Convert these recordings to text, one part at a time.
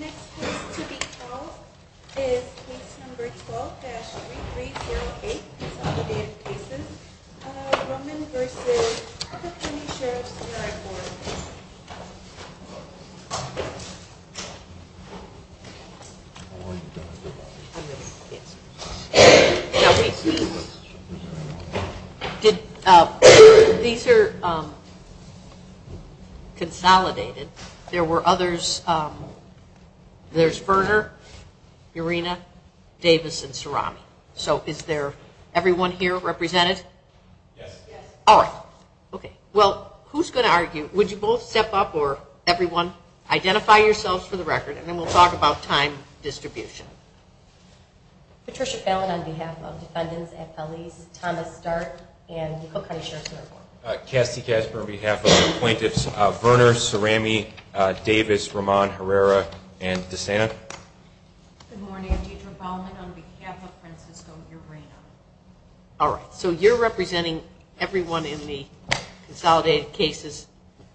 Next case to be called is case number 12-3308, Consolidated Cases, Rumbin v. Cook County Sheriffs Merit Board. These are consolidated. There were others, there's Verner, Irina, Davis and Cerami. So is everyone here represented? Yes. All right. Okay. Well, who's going to argue? Would you both step up or everyone? Identify yourselves for the record and then we'll talk about time distribution. Patricia Fallon on behalf of Defendants, FLEs, Thomas Start and Cook County Sheriffs Merit Board. Cassidy Casper on behalf of the plaintiffs, Verner, Cerami, Davis, Roman, Herrera and DeSanna. Good morning. I'm Deidre Baumann on behalf of Francisco and Irina. All right. So you're representing everyone in the consolidated cases,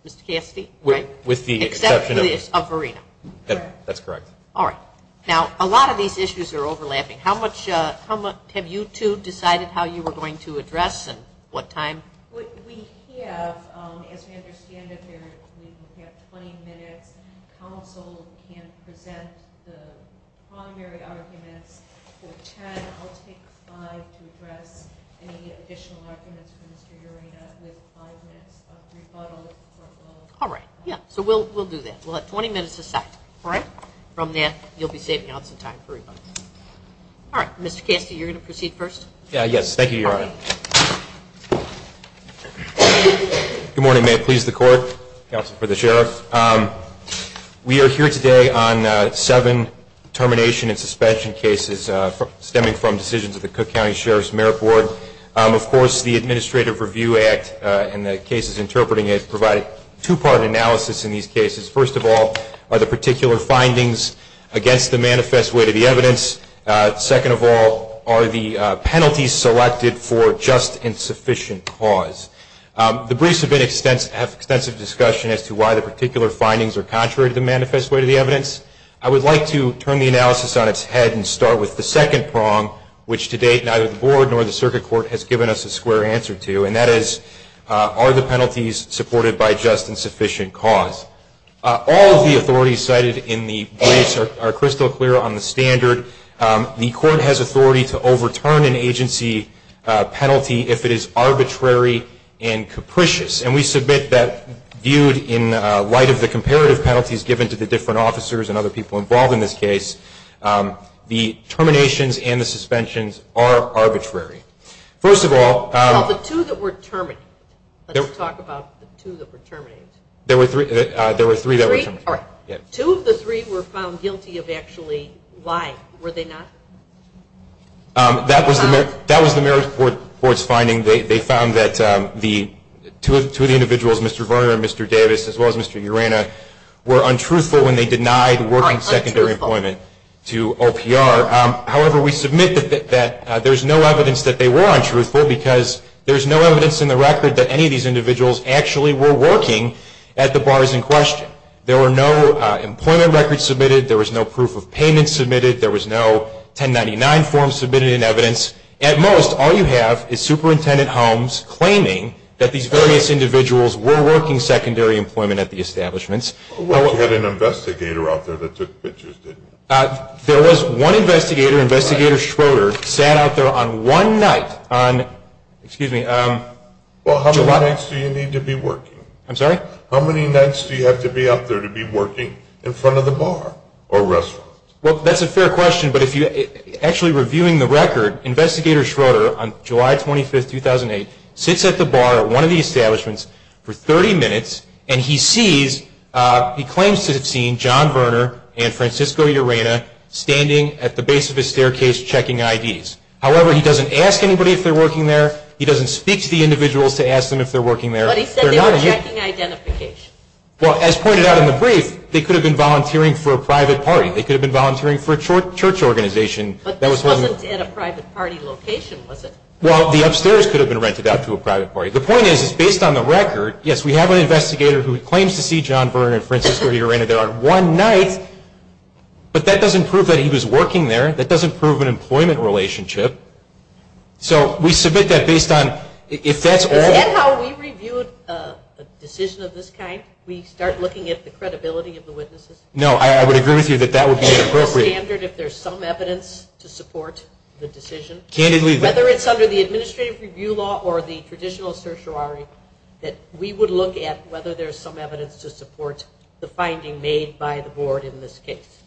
Mr. Cassidy, right? With the exception of Irina. That's correct. All right. Now, a lot of these issues are overlapping. How much have you two decided how you were going to address and what time? We have, as we understand it, we have 20 minutes. Counsel can present the primary arguments for 10. I'll take five to address any additional arguments for Mr. Irina with five minutes of rebuttal. All right. Yeah. So we'll do that. We'll have 20 minutes to set. All right? From there, you'll be saving out some time for rebuttal. All right. Mr. Cassidy, you're going to proceed first? Yes. Thank you, Your Honor. Good morning. May it please the Court, counsel for the sheriff. We are here today on seven termination and suspension cases stemming from decisions of the Cook County Sheriff's Merit Board. Of course, the Administrative Review Act and the cases interpreting it provide two-part analysis in these cases. First of all are the particular findings against the manifest way to the evidence. Second of all are the penalties selected for just and sufficient cause. The briefs have been extensive, have extensive discussion as to why the particular findings are contrary to the manifest way to the evidence. I would like to turn the analysis on its head and start with the second prong, which to date neither the board nor the circuit court has given us a square answer to, and that is are the penalties supported by just and sufficient cause. All of the authorities cited in the briefs are crystal clear on the standard. The court has authority to overturn an agency penalty if it is arbitrary and capricious, and we submit that viewed in light of the comparative penalties given to the different officers and other people involved in this case, the terminations and the suspensions are arbitrary. First of all, there were three that were terminated. Two of the three were found guilty of actually lying, were they not? That was the Merit Board's finding. They found that two of the individuals, Mr. Varner and Mr. Davis, as well as Mr. Urena, were untruthful when they denied working secondary employment to OPR. However, we submit that there's no evidence that they were untruthful because there's no evidence in the record that any of these individuals actually were working at the bars in question. There were no employment records submitted. There was no proof of payment submitted. There was no 1099 form submitted in evidence. At most, all you have is Superintendent Holmes claiming that these various individuals were working secondary employment at the establishments. You had an investigator out there that took pictures, didn't you? There was one investigator. Investigator Schroeder sat out there on one night on July 25, 2008. Well, how many nights do you need to be working? I'm sorry? How many nights do you have to be out there to be working in front of the bar or restaurant? Well, that's a fair question, but actually reviewing the record, Investigator Schroeder on July 25, 2008, sits at the bar at one of the establishments for 30 minutes, and he claims to have seen John Verner and Francisco Urena standing at the base of the staircase checking IDs. However, he doesn't ask anybody if they're working there. He doesn't speak to the individuals to ask them if they're working there. But he said they were checking identification. Well, as pointed out in the brief, they could have been volunteering for a private party. They could have been volunteering for a church organization. But this wasn't at a private party location, was it? Well, the upstairs could have been rented out to a private party. The point is, based on the record, yes, we have an investigator who claims to see John Verner and Francisco Urena there on one night, but that doesn't prove that he was working there. That doesn't prove an employment relationship. So we submit that based on if that's all. Is that how we review a decision of this kind? We start looking at the credibility of the witnesses? No, I would agree with you that that would be inappropriate. Is there a standard if there's some evidence to support the decision? Whether it's under the administrative review law or the traditional certiorari, that we would look at whether there's some evidence to support the finding made by the board in this case.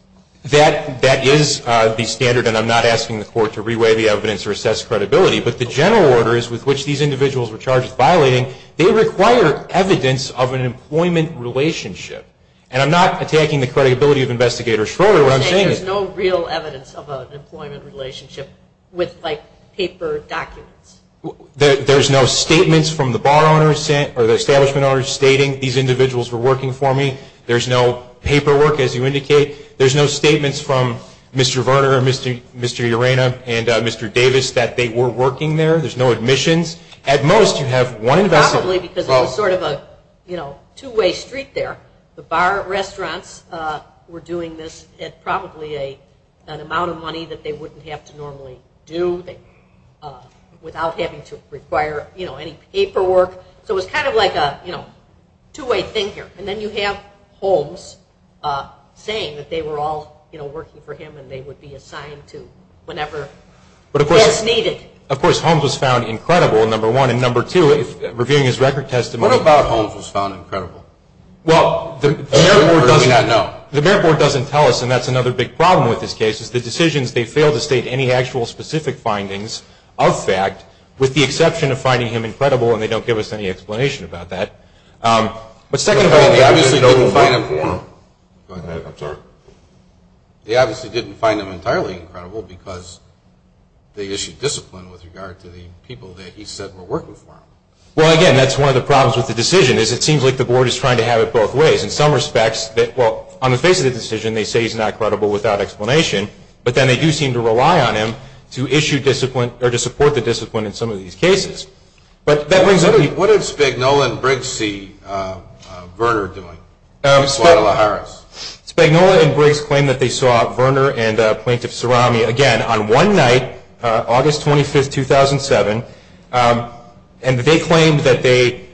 That is the standard, and I'm not asking the court to re-weigh the evidence or assess credibility. But the general order with which these individuals were charged with violating, they require evidence of an employment relationship. And I'm not attacking the credibility of Investigator Schroeder. There's no real evidence of an employment relationship with, like, paper documents. There's no statements from the establishment owners stating these individuals were working for me. There's no paperwork, as you indicate. There's no statements from Mr. Verner and Mr. Urena and Mr. Davis that they were working there. There's no admissions. At most, you have one investigator. Probably because it was sort of a two-way street there. The bar restaurants were doing this at probably an amount of money that they wouldn't have to normally do without having to require, you know, any paperwork. So it was kind of like a, you know, two-way thing here. And then you have Holmes saying that they were all, you know, working for him and they would be assigned to whenever it was needed. Of course, Holmes was found incredible, number one. And number two, reviewing his record testimony. What about Holmes was found incredible? Well, the merit board doesn't tell us, and that's another big problem with this case, is the decisions they fail to state any actual specific findings of fact with the exception of finding him incredible, and they don't give us any explanation about that. But second of all, they obviously didn't find him for him. Go ahead. I'm sorry. They obviously didn't find him entirely incredible because they issued discipline with regard to the people that he said were working for him. Well, again, that's one of the problems with the decision, is it seems like the board is trying to have it both ways. In some respects, well, on the face of the decision, they say he's not credible without explanation, but then they do seem to rely on him to issue discipline or to support the discipline in some of these cases. But that brings up the... What did Spagnola and Briggs see Verner doing in Guadalajara? Spagnola and Briggs claimed that they saw Verner and Plaintiff Cerami again on one night, August 25, 2007, and they claimed that they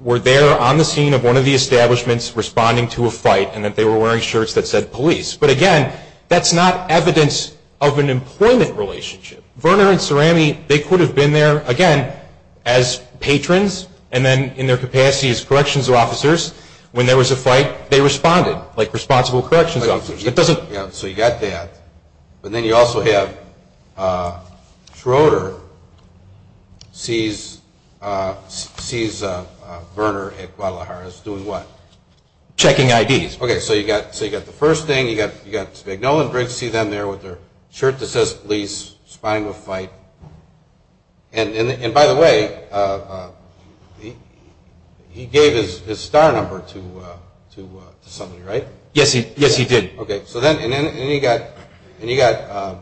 were there on the scene of one of the establishments responding to a fight and that they were wearing shirts that said police. But, again, that's not evidence of an employment relationship. Verner and Cerami, they could have been there, again, as patrons, and then in their capacity as corrections officers. When there was a fight, they responded like responsible corrections officers. So you got that. But then you also have Schroeder sees Verner at Guadalajara doing what? Checking IDs. Okay, so you got the first thing. You got Spagnola and Briggs see them there with their shirt that says police spying a fight. And, by the way, he gave his star number to somebody, right? Yes, he did. Okay, so then you got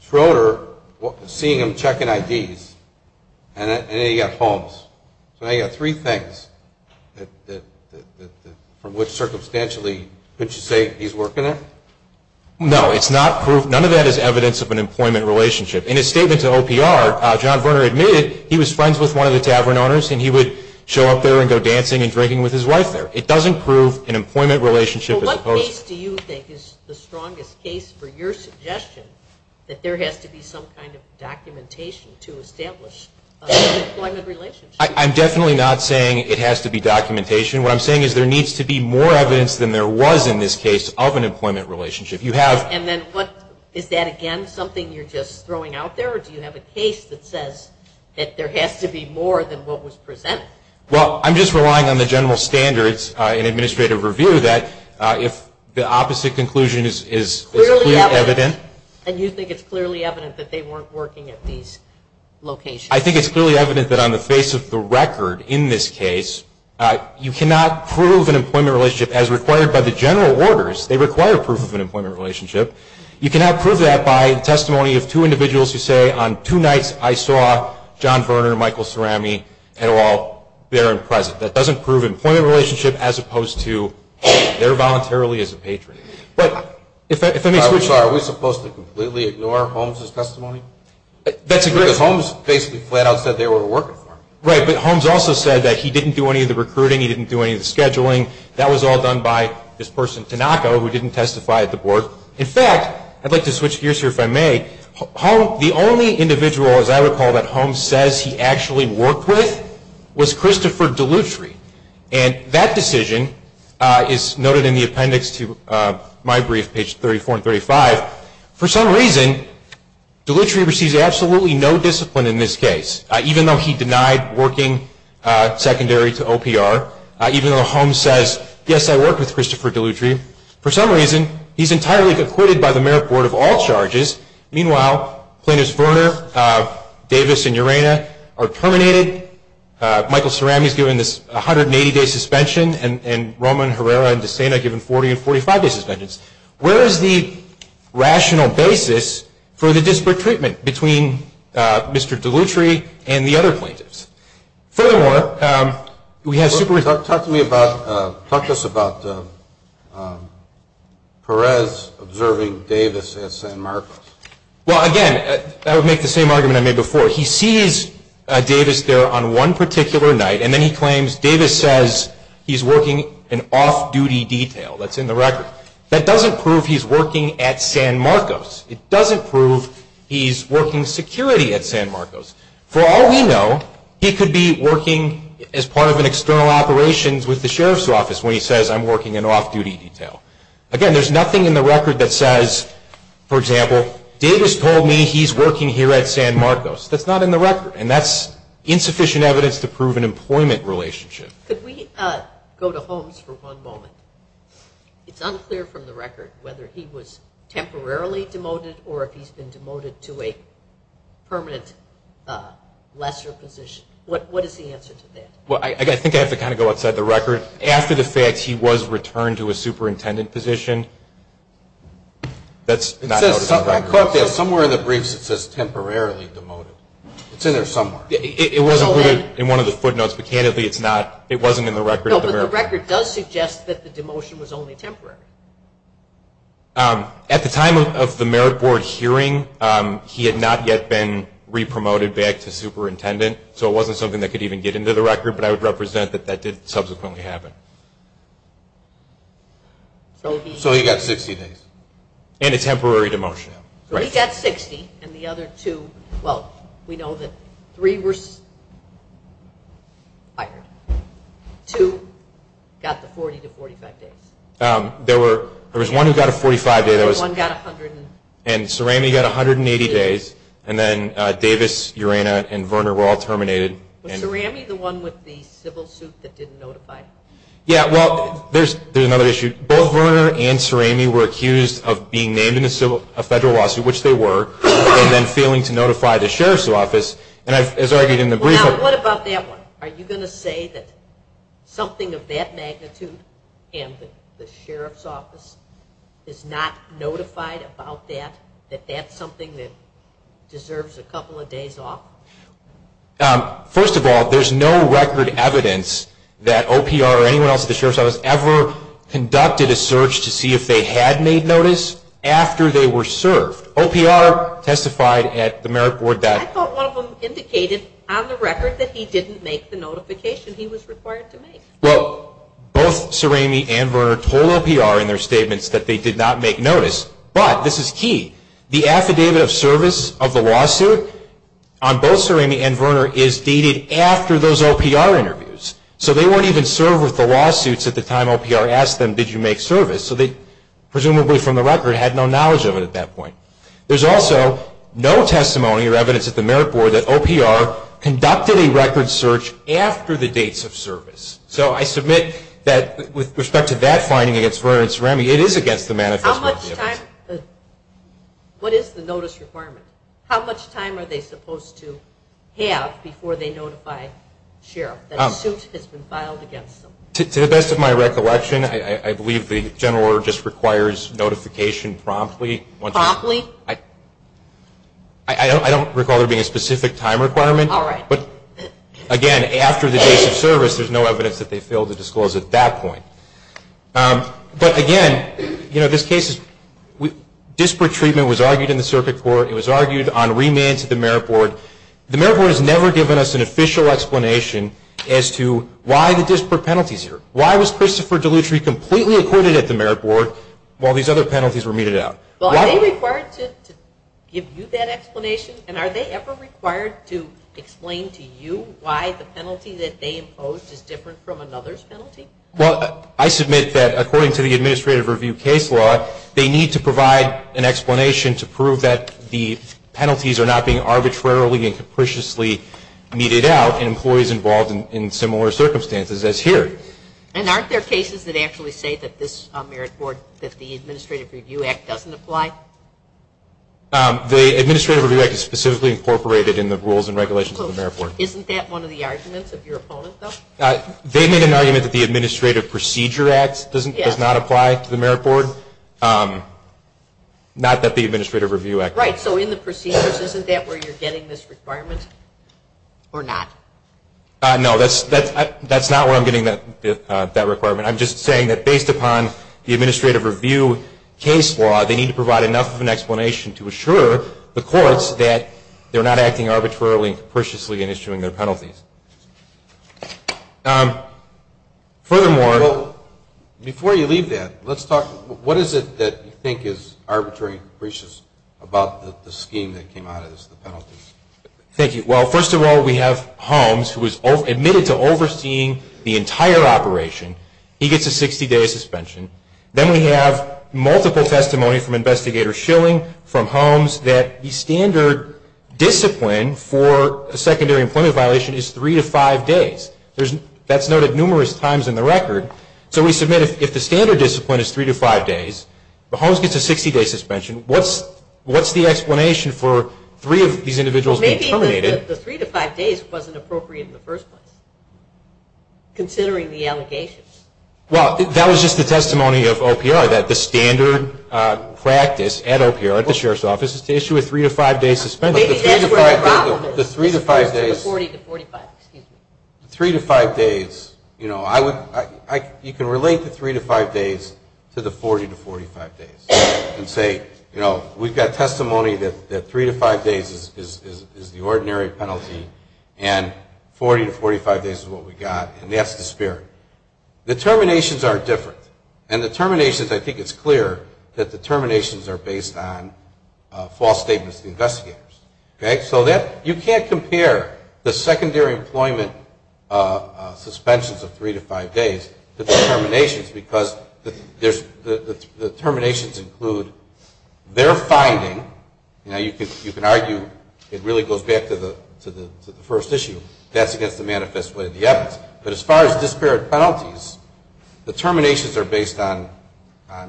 Schroeder seeing him checking IDs, and then you got Holmes. So you got three things from which, circumstantially, could you say he's working there? No, it's not proof. None of that is evidence of an employment relationship. In his statement to OPR, John Verner admitted he was friends with one of the tavern owners and he would show up there and go dancing and drinking with his wife there. It doesn't prove an employment relationship. What case do you think is the strongest case for your suggestion that there has to be some kind of documentation to establish an employment relationship? I'm definitely not saying it has to be documentation. What I'm saying is there needs to be more evidence than there was in this case of an employment relationship. Is that, again, something you're just throwing out there, or do you have a case that says that there has to be more than what was presented? Well, I'm just relying on the general standards in administrative review that if the opposite conclusion is clearly evident. And you think it's clearly evident that they weren't working at these locations? I think it's clearly evident that on the face of the record in this case, you cannot prove an employment relationship as required by the general orders. They require proof of an employment relationship. You cannot prove that by testimony of two individuals who say, on two nights I saw John Verner and Michael Cerami at all there and present. That doesn't prove an employment relationship as opposed to they're voluntarily as a patron. Are we supposed to completely ignore Holmes' testimony? Because Holmes basically flat out said they were working for him. Right, but Holmes also said that he didn't do any of the recruiting, he didn't do any of the scheduling. That was all done by this person, Tanaka, who didn't testify at the board. In fact, I'd like to switch gears here if I may. The only individual, as I recall, that Holmes says he actually worked with was Christopher Dellutri. And that decision is noted in the appendix to my brief, page 34 and 35. For some reason, Dellutri receives absolutely no discipline in this case, even though he denied working secondary to OPR, even though Holmes says, yes, I worked with Christopher Dellutri. For some reason, he's entirely acquitted by the merit board of all charges. Meanwhile, plaintiffs Verner, Davis, and Urena are terminated. Michael Cerami is given this 180-day suspension, and Roman, Herrera, and DeSena given 40 and 45-day suspensions. Where is the rational basis for the disparate treatment between Mr. Dellutri and the other plaintiffs? Furthermore, we have super- Talk to me about, talk to us about Perez observing Davis at San Marcos. Well, again, I would make the same argument I made before. He sees Davis there on one particular night, and then he claims Davis says he's working an off-duty detail. That's in the record. That doesn't prove he's working at San Marcos. It doesn't prove he's working security at San Marcos. For all we know, he could be working as part of an external operations with the sheriff's office when he says I'm working an off-duty detail. Again, there's nothing in the record that says, for example, Davis told me he's working here at San Marcos. That's not in the record, and that's insufficient evidence to prove an employment relationship. Could we go to Holmes for one moment? It's unclear from the record whether he was temporarily demoted or if he's been demoted to a permanent lesser position. What is the answer to that? Well, I think I have to kind of go outside the record. After the fact, he was returned to a superintendent position. It says somewhere in the briefs it says temporarily demoted. It's in there somewhere. It wasn't in one of the footnotes, but candidly, it wasn't in the record. No, but the record does suggest that the demotion was only temporary. At the time of the merit board hearing, he had not yet been re-promoted back to superintendent, so it wasn't something that could even get into the record, but I would represent that that did subsequently happen. So he got 60 days. And a temporary demotion. So he got 60, and the other two, well, we know that three were fired. Two got the 40 to 45 days. There was one who got a 45 day. One got 100. And Cerami got 180 days. And then Davis, Urena, and Verner were all terminated. Was Cerami the one with the civil suit that didn't notify? Yeah, well, there's another issue. Both Verner and Cerami were accused of being named in a federal lawsuit, which they were, and then failing to notify the sheriff's office. And as argued in the brief. Well, now, what about that one? Are you going to say that something of that magnitude and the sheriff's office is not notified about that, that that's something that deserves a couple of days off? First of all, there's no record evidence that OPR or anyone else at the sheriff's office ever conducted a search to see if they had made notice after they were served. OPR testified at themeritboard.com. I thought one of them indicated on the record that he didn't make the notification he was required to make. Well, both Cerami and Verner told OPR in their statements that they did not make notice, but this is key, the affidavit of service of the lawsuit on both Cerami and Verner is dated after those OPR interviews. So they weren't even served with the lawsuits at the time OPR asked them, did you make service? So they presumably from the record had no knowledge of it at that point. There's also no testimony or evidence at the merit board that OPR conducted a record search after the dates of service. So I submit that with respect to that finding against Verner and Cerami, it is against the manifesto affidavit. What is the notice requirement? How much time are they supposed to have before they notify the sheriff that a suit has been filed against them? To the best of my recollection, I believe the general order just requires notification promptly. Promptly? I don't recall there being a specific time requirement. All right. But, again, after the dates of service, there's no evidence that they failed to disclose at that point. But, again, you know, this case is disparate treatment was argued in the circuit court. It was argued on remand to the merit board. The merit board has never given us an official explanation as to why the disparate penalty is here. Why was Christopher Dellutri completely acquitted at the merit board while these other penalties were meted out? Well, are they required to give you that explanation? And are they ever required to explain to you why the penalty that they imposed is different from another's penalty? Well, I submit that according to the administrative review case law, they need to provide an explanation to prove that the penalties are not being arbitrarily and capriciously meted out in employees involved in similar circumstances as here. And aren't there cases that actually say that this merit board, that the Administrative Review Act doesn't apply? The Administrative Review Act is specifically incorporated in the rules and regulations of the merit board. Isn't that one of the arguments of your opponent, though? They made an argument that the Administrative Procedure Act does not apply to the merit board, not that the Administrative Review Act does. Right. So in the procedures, isn't that where you're getting this requirement or not? No, that's not where I'm getting that requirement. I'm just saying that based upon the Administrative Review case law, they need to provide enough of an explanation to assure the courts that they're not acting arbitrarily and capriciously in issuing their penalties. Furthermore... Well, before you leave that, let's talk, what is it that you think is arbitrarily capricious about the scheme that came out of this, the penalties? Thank you. Well, first of all, we have Holmes, who was admitted to overseeing the entire operation. He gets a 60-day suspension. Then we have multiple testimony from Investigator Schilling from Holmes that the standard discipline for a secondary employment violation is three to five days. That's noted numerous times in the record. So we submit if the standard discipline is three to five days, but Holmes gets a 60-day suspension, what's the explanation for three of these individuals being terminated? Well, maybe the three to five days wasn't appropriate in the first place, considering the allegations. Well, that was just the testimony of OPR, that the standard practice at OPR, at the Sheriff's Office, is to issue a three to five day suspension. Maybe that's where the problem is. The three to five days... The 40 to 45, excuse me. The three to five days, you know, you can relate the three to five days to the 40 to 45 days and say, you know, we've got testimony that three to five days is the ordinary penalty and 40 to 45 days is what we got. And that's the spirit. The terminations are different. And the terminations, I think it's clear that the terminations are based on false statements of the investigators. Okay? So that, you can't compare the secondary employment suspensions of three to five days because the terminations include their finding. You know, you can argue it really goes back to the first issue. That's against the manifest way of the evidence. But as far as disparate penalties, the terminations are based on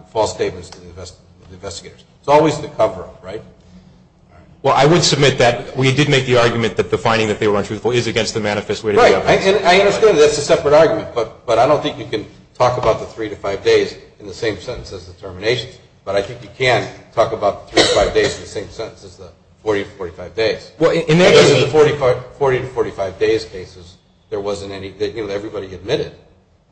false statements of the investigators. It's always the cover-up, right? Well, I would submit that we did make the argument that the finding that they were untruthful is against the manifest way of the evidence. Right. I understand that. That's a separate argument. But I don't think you can talk about the three to five days in the same sentence as the terminations. But I think you can talk about the three to five days in the same sentence as the 40 to 45 days. Because in the 40 to 45 days cases, there wasn't any, you know, everybody admitted,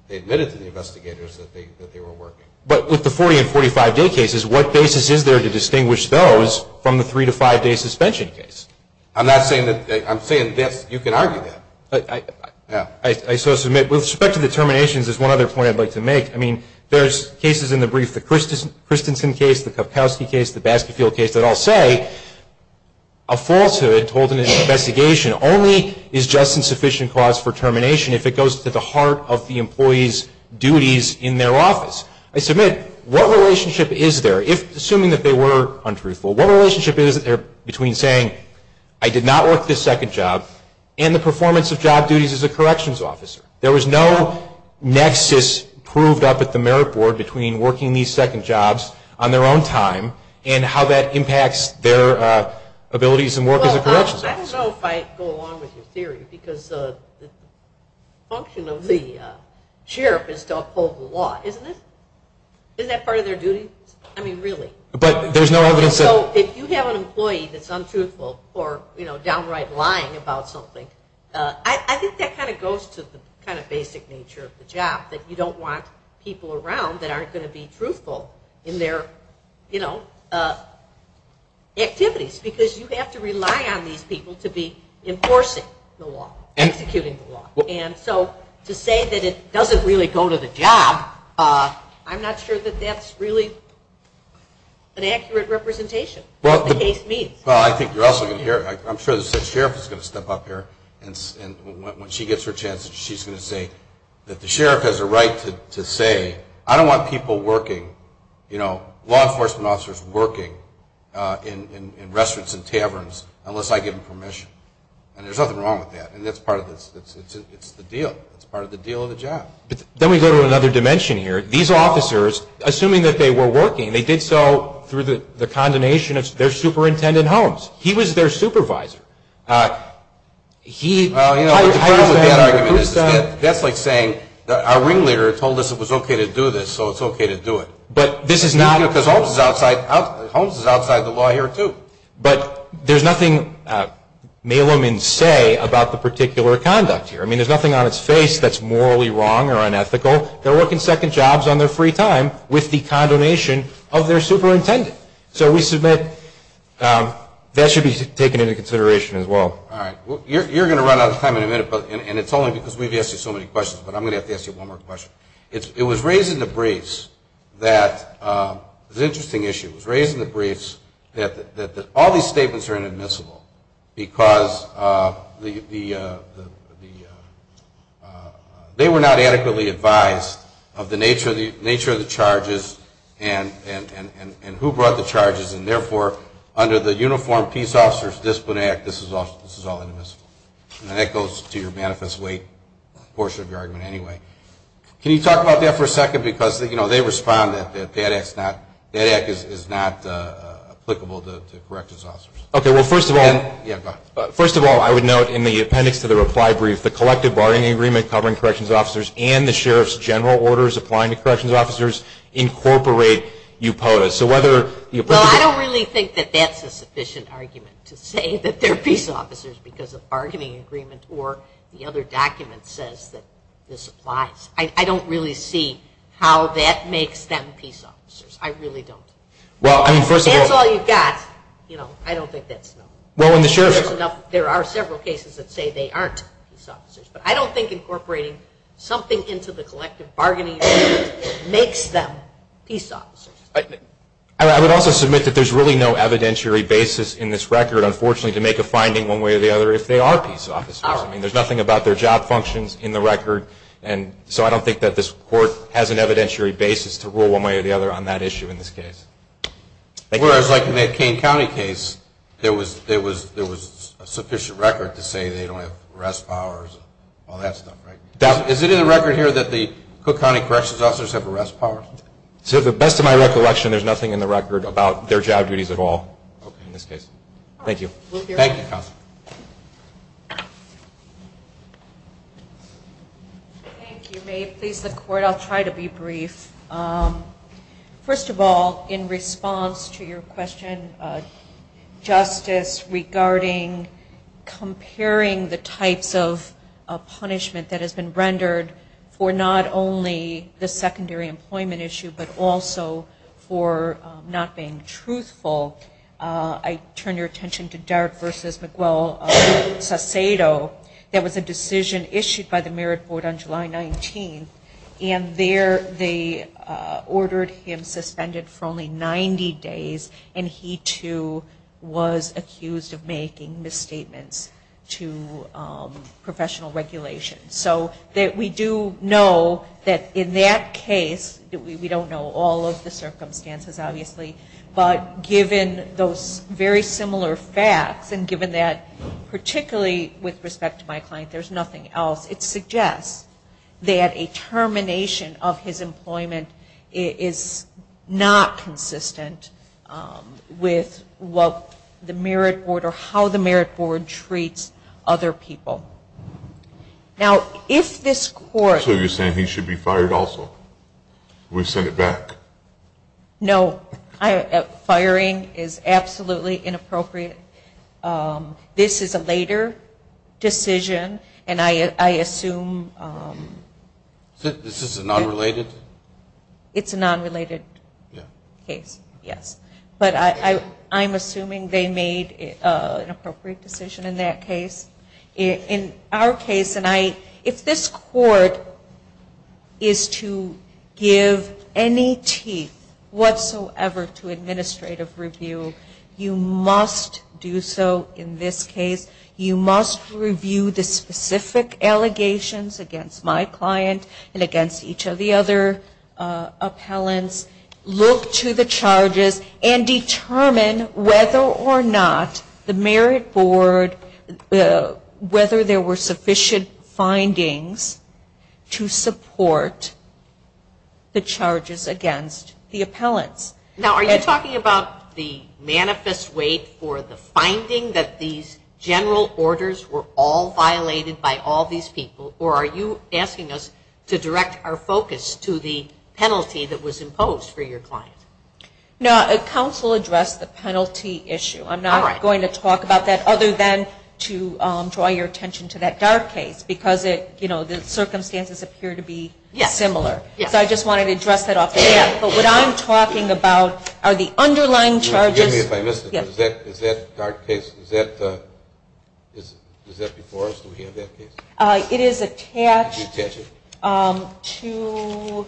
they admitted to the investigators that they were working. But with the 40 and 45 day cases, what basis is there to distinguish those from the three to five day suspension case? I'm not saying that, I'm saying you can argue that. I so submit, with respect to the terminations, there's one other point I'd like to make. I mean, there's cases in the brief, the Christensen case, the Kupkowski case, the Baskerville case that all say a falsehood told in an investigation only is just and sufficient cause for termination if it goes to the heart of the employee's duties in their office. I submit, what relationship is there if, assuming that they were untruthful, what relationship is there between saying I did not work this second job and the performance of job duties as a corrections officer? There was no nexus proved up at the merit board between working these second jobs on their own time and how that impacts their abilities and work as a corrections officer. I don't know if I go along with your theory because the function of the sheriff is to uphold the law, isn't it? Isn't that part of their duties? I mean, really? But there's no evidence that... I think that kind of goes to the kind of basic nature of the job, that you don't want people around that aren't going to be truthful in their activities because you have to rely on these people to be enforcing the law, executing the law. And so to say that it doesn't really go to the job, I'm not sure that that's really an accurate representation of what the case means. Well, I think you're also going to hear... I'm sure the sheriff is going to step up here and when she gets her chance, she's going to say that the sheriff has a right to say, I don't want people working, you know, law enforcement officers working in restaurants and taverns unless I give them permission. And there's nothing wrong with that, and that's part of this. It's the deal. It's part of the deal of the job. Then we go to another dimension here. These officers, assuming that they were working, and they did so through the condemnation of their superintendent, Holmes. He was their supervisor. He... Well, you know, the problem with that argument is that that's like saying, our ringleader told us it was okay to do this, so it's okay to do it. But this is not... Because Holmes is outside the law here, too. But there's nothing mail them and say about the particular conduct here. I mean, there's nothing on its face that's morally wrong or unethical. They're working second jobs on their free time with the condemnation of their superintendent. So we submit that should be taken into consideration as well. All right. You're going to run out of time in a minute, and it's only because we've asked you so many questions, but I'm going to have to ask you one more question. It was raised in the briefs that... It was an interesting issue. It was raised in the briefs that all these statements are inadmissible because the... of the nature of the charges and who brought the charges, and therefore under the Uniform Peace Officers Discipline Act, this is all inadmissible. And that goes to your manifest weight portion of your argument anyway. Can you talk about that for a second? Because, you know, they respond that that act is not applicable to corrections officers. Okay. Well, first of all... Yeah, go ahead. First of all, I would note in the appendix to the reply brief, the collective bargaining agreement covering corrections officers and the sheriff's general orders applying to corrections officers incorporate u potas. So whether... Well, I don't really think that that's a sufficient argument to say that they're peace officers because of bargaining agreement or the other document says that this applies. I don't really see how that makes them peace officers. I really don't. Well, I mean, first of all... If that's all you've got, you know, I don't think that's enough. Well, when the sheriff... There are several cases that say they aren't peace officers, but I don't think incorporating something into the collective bargaining agreement makes them peace officers. I would also submit that there's really no evidentiary basis in this record, unfortunately, to make a finding one way or the other if they are peace officers. I mean, there's nothing about their job functions in the record, and so I don't think that this Court has an evidentiary basis to rule one way or the other on that issue in this case. Whereas, like in that Kane County case, there was a sufficient record to say they don't have arrest powers, all that stuff, right? Is it in the record here that the Cook County corrections officers have arrest powers? To the best of my recollection, there's nothing in the record about their job duties at all in this case. Thank you. Thank you, Counselor. Thank you. May it please the Court, I'll try to be brief. First of all, in response to your question, Justice, regarding comparing the types of punishment that has been rendered for not only the secondary employment issue, but also for not being truthful, I turn your attention to Dart v. McGwell-Sasado. That was a decision issued by the Merit Board on July 19th, and they ordered him suspended for only 90 days, and he, too, was accused of making misstatements to professional regulation. So we do know that in that case, we don't know all of the circumstances, obviously, but given those very similar facts, and given that particularly with respect to my client, there's nothing else, it suggests that a termination of his employment is not consistent with what the Merit Board or how the Merit Board treats other people. Now, if this court... So you're saying he should be fired also? We send it back? No. Firing is absolutely inappropriate. This is a later decision, and I assume... Is this a non-related? It's a non-related case, yes. But I'm assuming they made an appropriate decision in that case. In our case, if this court is to give any teeth whatsoever to administrative review, you must do so in this case. You must review the specific allegations against my client and against each of the other appellants, look to the charges, and determine whether or not the Merit Board, whether there were sufficient findings to support the charges against the appellants. Now, are you talking about the manifest weight for the finding that these general orders were all violated by all these people, or are you asking us to direct our focus to the penalty that was imposed for your client? No, counsel addressed the penalty issue. I'm not going to talk about that other than to draw your attention to that dark case because the circumstances appear to be similar. So I just wanted to address that off the bat. But what I'm talking about are the underlying charges. Excuse me if I missed it, but is that dark case, is that before us? Do we have that case? It is attached to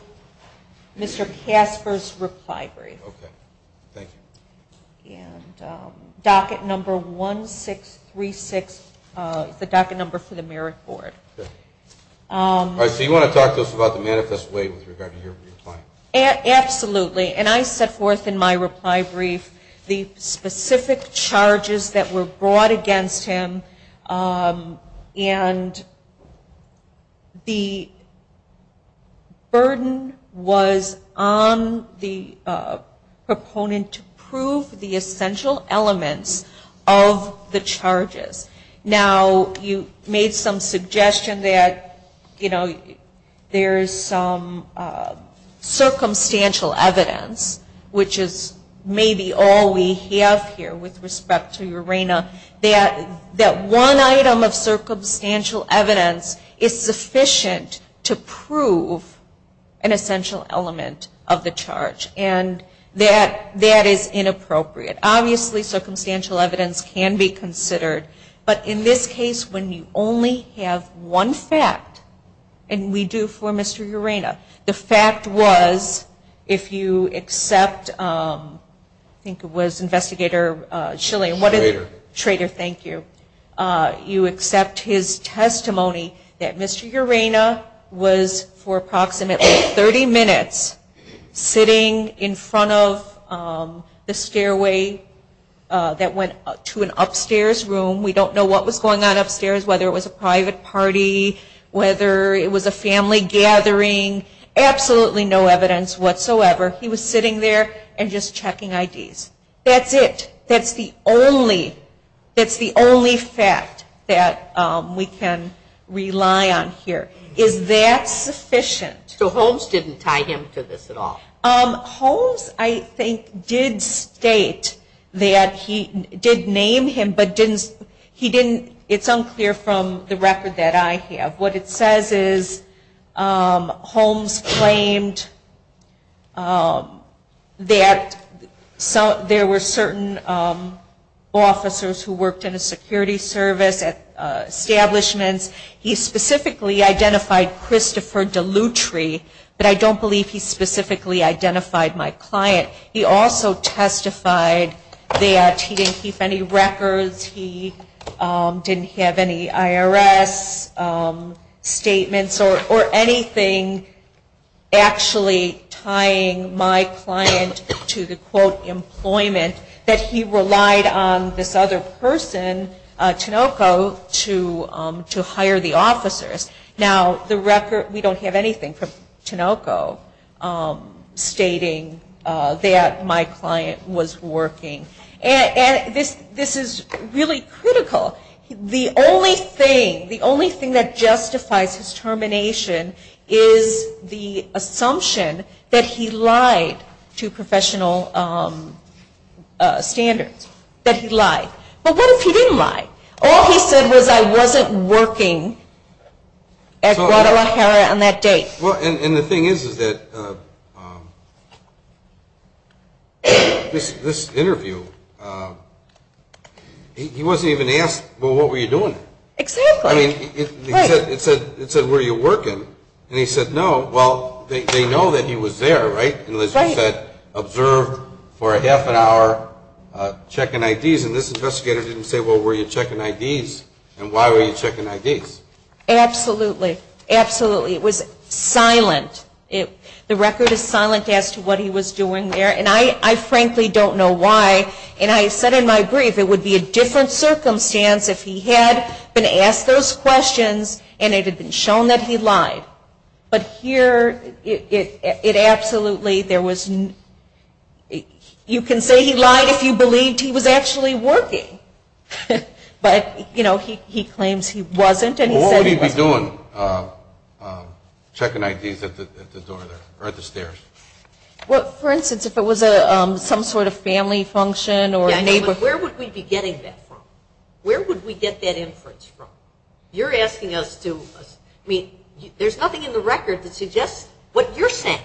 Mr. Casper's reply brief. Okay, thank you. And docket number 1636 is the docket number for the Merit Board. All right, so you want to talk to us about the manifest weight with regard to your client? Absolutely. And I set forth in my reply brief the specific charges that were brought against him, and the burden was on the proponent to prove the essential elements of the charges. Now, you made some suggestion that, you know, there is some circumstantial evidence, which is maybe all we have here with respect to Urena, that one item of circumstantial evidence is sufficient to prove an essential element of the charge. And that is inappropriate. Obviously, circumstantial evidence can be considered. But in this case, when you only have one fact, and we do for Mr. Urena, the fact was if you accept, I think it was Investigator Schilling. Schrader. Schrader, thank you. You accept his testimony that Mr. Urena was, for approximately 30 minutes, sitting in front of the stairway that went to an upstairs room. We don't know what was going on upstairs, whether it was a private party, whether it was a family gathering. Absolutely no evidence whatsoever. He was sitting there and just checking IDs. That's it. That's the only fact that we can rely on here. Is that sufficient? So Holmes didn't tie him to this at all? Holmes, I think, did state that he did name him, but it's unclear from the record that I have. What it says is Holmes claimed that there were certain officers who worked in a security service, establishments. He specifically identified Christopher Dellutri, but I don't believe he specifically identified my client. He also testified that he didn't keep any records. He didn't have any IRS statements or anything actually tying my client to the, quote, to hire the officers. Now, the record, we don't have anything from Tinoco stating that my client was working. And this is really critical. The only thing that justifies his termination is the assumption that he lied to professional standards, that he lied. But what if he didn't lie? All he said was I wasn't working at Guadalajara on that date. Well, and the thing is, is that this interview, he wasn't even asked, well, what were you doing? Exactly. I mean, it said, were you working? And he said, no. Well, they know that he was there, right? And, as you said, observed for a half an hour checking IDs. And this investigator didn't say, well, were you checking IDs? And why were you checking IDs? Absolutely. Absolutely. It was silent. The record is silent as to what he was doing there. And I frankly don't know why. And I said in my brief it would be a different circumstance if he had been asked those questions and it had been shown that he lied. But here, it absolutely, there was, you can say he lied if you believed he was actually working. But, you know, he claims he wasn't and he said he wasn't. Well, what would he be doing, checking IDs at the door there, or at the stairs? Well, for instance, if it was some sort of family function or neighborhood. Yeah, but where would we be getting that from? Where would we get that inference from? You're asking us to, I mean, there's nothing in the record that suggests what you're saying.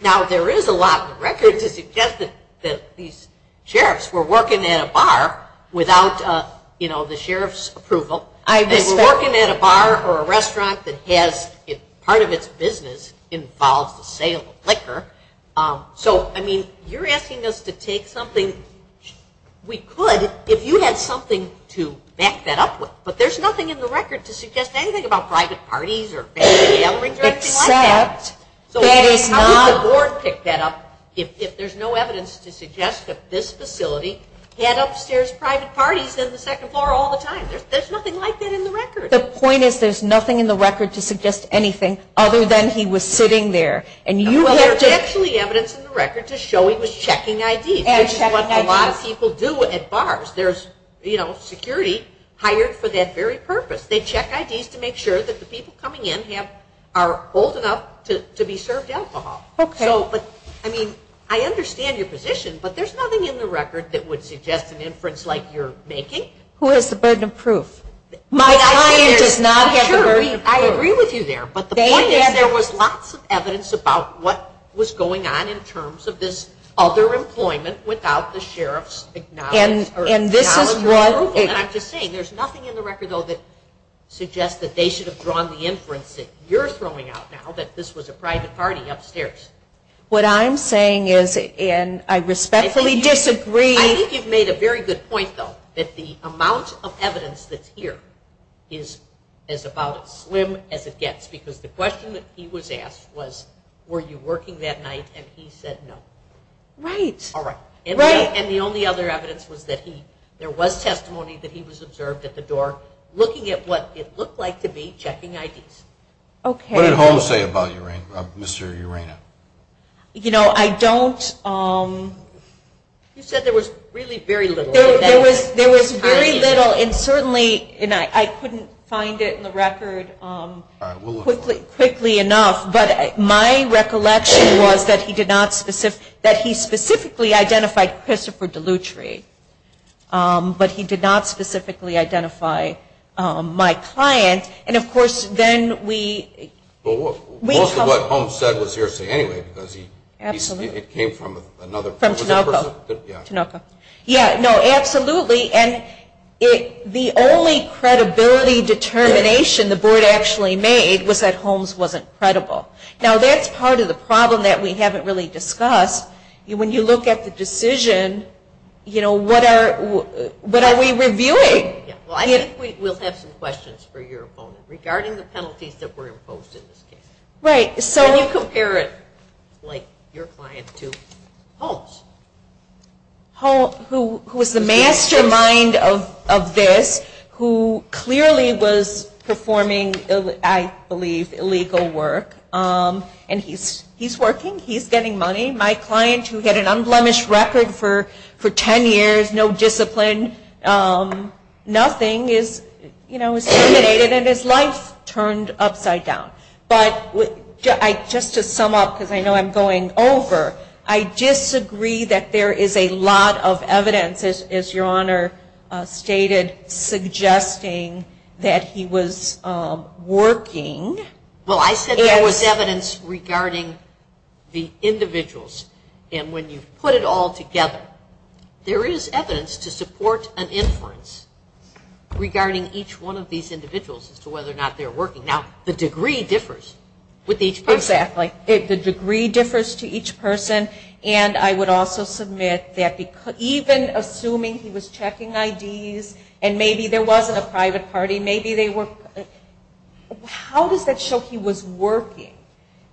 Now, there is a lot in the record to suggest that these sheriffs were working at a bar without, you know, the sheriff's approval. They were working at a bar or a restaurant that has, part of its business involves the sale of liquor. So, I mean, you're asking us to take something we could if you had something to back that up with. But there's nothing in the record to suggest anything about private parties or family gatherings or anything like that. Except that is not. So, how could the board pick that up if there's no evidence to suggest that this facility had upstairs private parties in the second floor all the time? There's nothing like that in the record. The point is there's nothing in the record to suggest anything other than he was sitting there. And you have to. Well, there's actually evidence in the record to show he was checking IDs, which is what a lot of people do at bars. There's, you know, security hired for that very purpose. They check IDs to make sure that the people coming in are old enough to be served alcohol. Okay. So, but, I mean, I understand your position. But there's nothing in the record that would suggest an inference like you're making. Who has the burden of proof? My client does not have the burden of proof. Sure, I agree with you there. But the point is there was lots of evidence about what was going on in terms of this other employment without the And I'm just saying, there's nothing in the record, though, that suggests that they should have drawn the inference that you're throwing out now that this was a private party upstairs. What I'm saying is, and I respectfully disagree. I think you've made a very good point, though, that the amount of evidence that's here is about as slim as it gets. Because the question that he was asked was, were you working that night? And he said no. Right. All right. And the only other evidence was that there was testimony that he was observed at the door, looking at what it looked like to be checking IDs. Okay. What did Holmes say about Mr. Urena? You know, I don't. You said there was really very little. There was very little. And certainly, I couldn't find it in the record quickly enough. But my recollection was that he specifically identified Christopher Dellutri. But he did not specifically identify my client. And, of course, then we Well, most of what Holmes said was hearsay anyway. Because it came from another person. From Tinoco. Yeah. Tinoco. Yeah, no, absolutely. And the only credibility determination the board actually made was that Holmes wasn't credible. Now, that's part of the problem that we haven't really discussed. When you look at the decision, you know, what are we reviewing? Well, I think we'll have some questions for your opponent regarding the penalties that were imposed in this case. Right. Can you compare it, like, your client to Holmes? Holmes, who was the mastermind of this, who clearly was performing, I believe, illegal work. And he's working. He's getting money. My client, who had an unblemished record for ten years, no discipline, nothing is, you know, is terminated. And his life turned upside down. But just to sum up, because I know I'm going over, I disagree that there is a lot of evidence, as your Honor stated, suggesting that he was working. Well, I said there was evidence regarding the individuals. And when you put it all together, there is evidence to support an inference regarding each one of these individuals as to whether or not they're working. Now, the degree differs with each person. Exactly. The degree differs to each person. And I would also submit that even assuming he was checking IDs and maybe there wasn't a private party, maybe they were – how does that show he was working?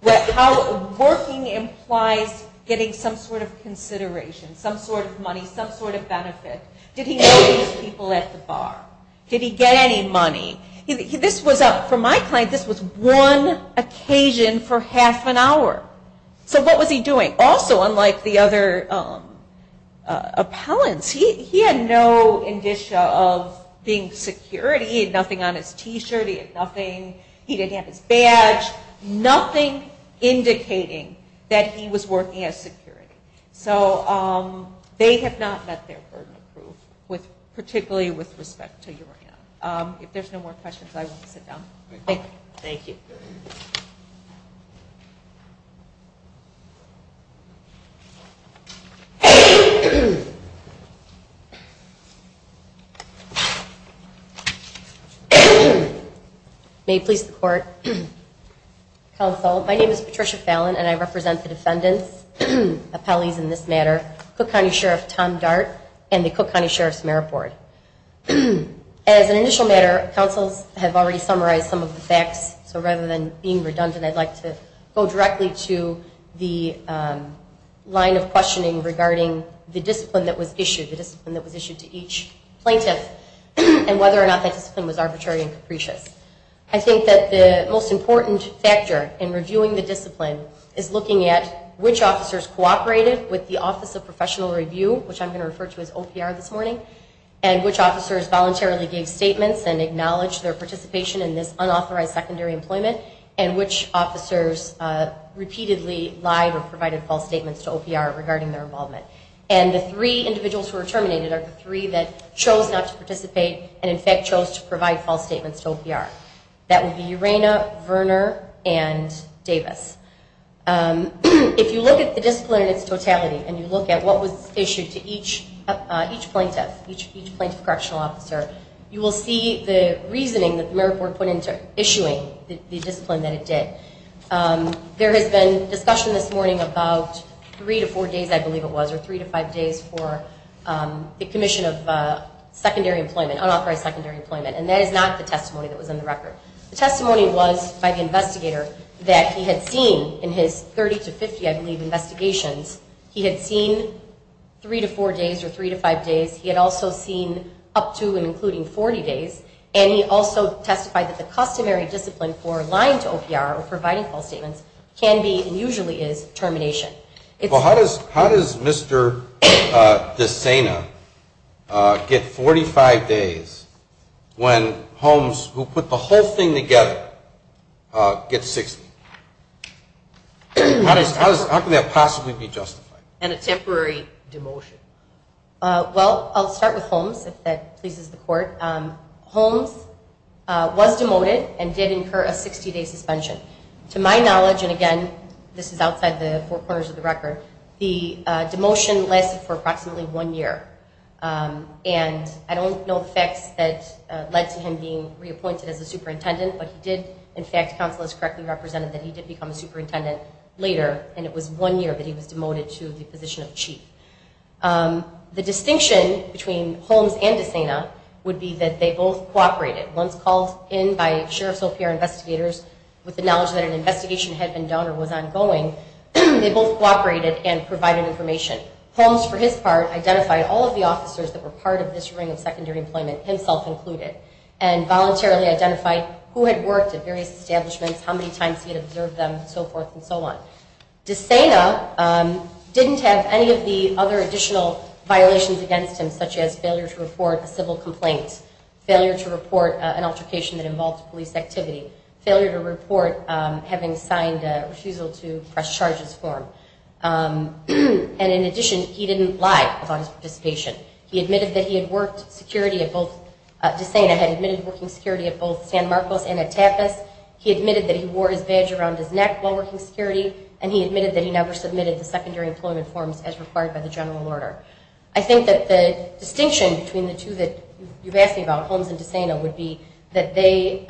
How working implies getting some sort of consideration, some sort of money, some sort of benefit? Did he know these people at the bar? Did he get any money? For my client, this was one occasion for half an hour. So what was he doing? Also, unlike the other appellants, he had no indicia of being security. He had nothing on his T-shirt. He had nothing. He didn't have his badge. Nothing indicating that he was working as security. So they have not met their burden of proof, particularly with respect to Thank you. May it please the Court. Counsel, my name is Patricia Fallon, and I represent the defendants, appellees in this matter, Cook County Sheriff Tom Dart, and the Cook County Sheriff's Merit Board. As an initial matter, counsels have already summarized some of the facts, so rather than being redundant, I'd like to go directly to the line of questioning regarding the discipline that was issued, the discipline that was issued to each plaintiff, and whether or not that discipline was arbitrary and capricious. I think that the most important factor in reviewing the discipline is looking at which officers cooperated with the Office of Professional Review, which I'm going to refer to as OPR this morning, and which officers voluntarily gave statements and acknowledged their participation in this unauthorized secondary employment, and which officers repeatedly lied or provided false statements to OPR regarding their involvement. And the three individuals who were terminated are the three that chose not to participate and, in fact, chose to provide false statements to OPR. That would be Urena, Verner, and Davis. If you look at the discipline in its totality and you look at what was issued to each plaintiff, each plaintiff correctional officer, you will see the reasoning that the Merit Board put into issuing the discipline that it did. There has been discussion this morning about three to four days, I believe it was, or three to five days for the commission of secondary employment, unauthorized secondary employment, and that is not the testimony that was in the record. The testimony was by the investigator that he had seen in his 30 to 50, I believe, investigations. He had seen three to four days or three to five days. He had also seen up to and including 40 days. And he also testified that the customary discipline for lying to OPR or providing false statements can be and usually is termination. Well, how does Mr. DeSena get 45 days when Holmes, who put the whole thing together, gets 60? How can that possibly be justified? And a temporary demotion. Well, I'll start with Holmes, if that pleases the court. Holmes was demoted and did incur a 60-day suspension. To my knowledge, and again, this is outside the four corners of the record, the demotion lasted for approximately one year. And I don't know the facts that led to him being reappointed as a superintendent, but he did, in fact, counsel as correctly represented that he did become a superintendent later, and it was one year that he was demoted to the position of chief. The distinction between Holmes and DeSena would be that they both cooperated. Once called in by Sheriff's OPR investigators with the knowledge that an investigation had been done or was ongoing, they both cooperated and provided information. Holmes, for his part, identified all of the officers that were part of this ring of secondary employment, himself included, and voluntarily identified who had worked at various establishments, how many times he had observed them, and so forth and so on. DeSena didn't have any of the other additional violations against him, such as failure to report a civil complaint, failure to report an altercation that involved police activity, failure to report having signed a refusal to press charges form. And in addition, he didn't lie about his participation. He admitted that he had worked security at both – He admitted that he wore his badge around his neck while working security, and he admitted that he never submitted the secondary employment forms as required by the general order. I think that the distinction between the two that you've asked me about, Holmes and DeSena, would be that they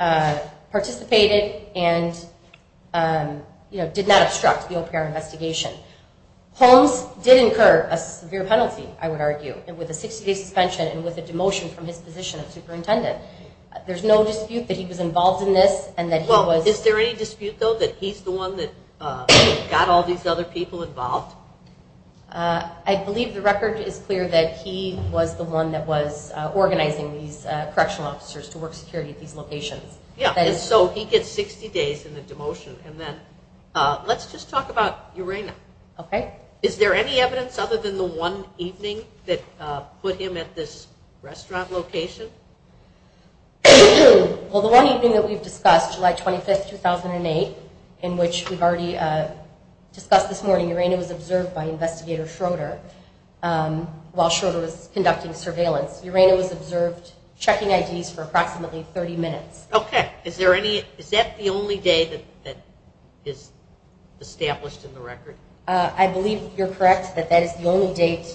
participated and did not obstruct the OPR investigation. Holmes did incur a severe penalty, I would argue, with a 60-day suspension and with a demotion from his position of superintendent. There's no dispute that he was involved in this and that he was – Well, is there any dispute, though, that he's the one that got all these other people involved? I believe the record is clear that he was the one that was organizing these correctional officers to work security at these locations. Yeah, and so he gets 60 days in the demotion. And then let's just talk about Urena. Okay. Is there any evidence other than the one evening that put him at this restaurant location? Well, the one evening that we've discussed, July 25, 2008, in which we've already discussed this morning, Urena was observed by Investigator Schroeder while Schroeder was conducting surveillance. Urena was observed checking IDs for approximately 30 minutes. Okay. Is that the only day that is established in the record? I believe you're correct that that is the only date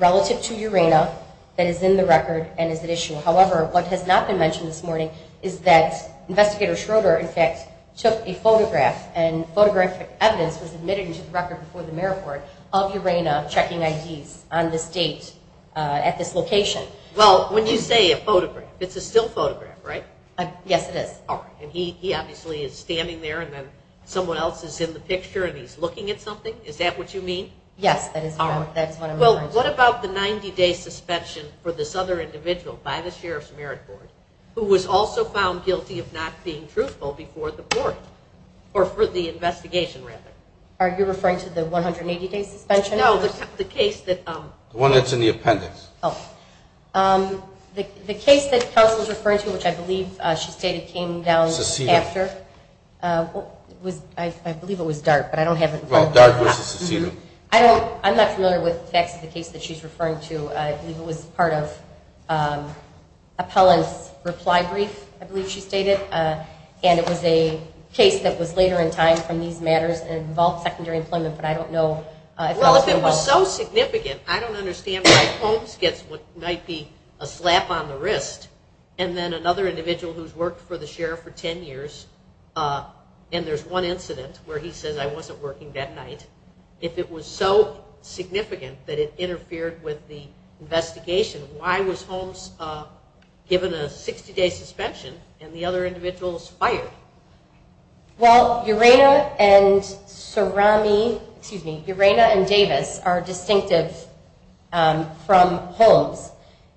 relative to Urena that is in the record and is at issue. However, what has not been mentioned this morning is that Investigator Schroeder, in fact, took a photograph and photographic evidence was admitted into the record before the mayor board of Urena checking IDs on this date at this location. Well, when you say a photograph, it's a still photograph, right? Yes, it is. All right. And he obviously is standing there and then someone else is in the picture and he's looking at something? Is that what you mean? Yes, that is correct. That's what I'm referring to. Well, what about the 90-day suspension for this other individual by the sheriff's merit board who was also found guilty of not being truthful before the court or for the investigation, rather? Are you referring to the 180-day suspension? No, the case that – The one that's in the appendix. The case that counsel is referring to, which I believe she stated came down after, I believe it was Dart, but I don't have it in front of me. Well, Dart v. Cecilio. I'm not familiar with the facts of the case that she's referring to. I believe it was part of Appellant's reply brief, I believe she stated, and it was a case that was later in time from these matters and involved secondary employment, but I don't know. Well, if it was so significant, I don't understand why Holmes gets what might be a slap on the wrist and then another individual who's worked for the sheriff for 10 years and there's one incident where he says, I wasn't working that night. If it was so significant that it interfered with the investigation, why was Holmes given a 60-day suspension and the other individuals fired? Well, Urena and Davis are distinctive from Holmes.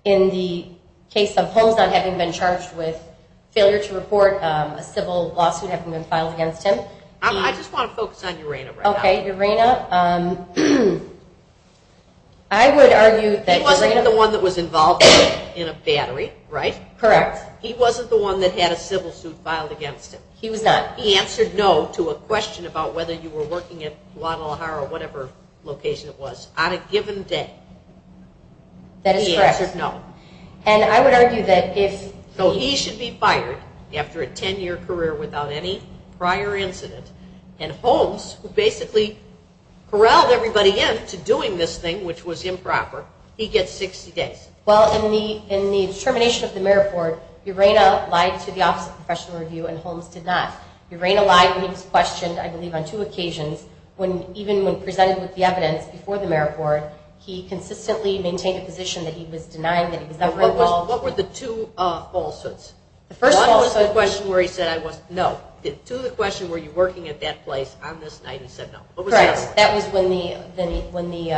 In the case of Holmes not having been charged with failure to report, a civil lawsuit having been filed against him. I just want to focus on Urena right now. Okay, Urena. I would argue that Urena- He wasn't the one that was involved in a battery, right? Correct. He wasn't the one that had a civil suit filed against him. He was not. He answered no to a question about whether you were working at Guadalajara or whatever location it was on a given day. That is correct. He answered no. And I would argue that if- So he should be fired after a 10-year career without any prior incident and Holmes, who basically corralled everybody in to doing this thing, which was improper, he gets 60 days. Well, in the termination of the marathon, Urena lied to the Office of Professional Review and Holmes did not. Urena lied when he was questioned, I believe on two occasions, even when presented with the evidence before the marathon, he consistently maintained a position that he was denying that he was ever involved. What were the two falsehoods? The first falsehood- One was the question where he said I was- No. To the question, were you working at that place on this night, he said no. What was the other one? Correct. That was when the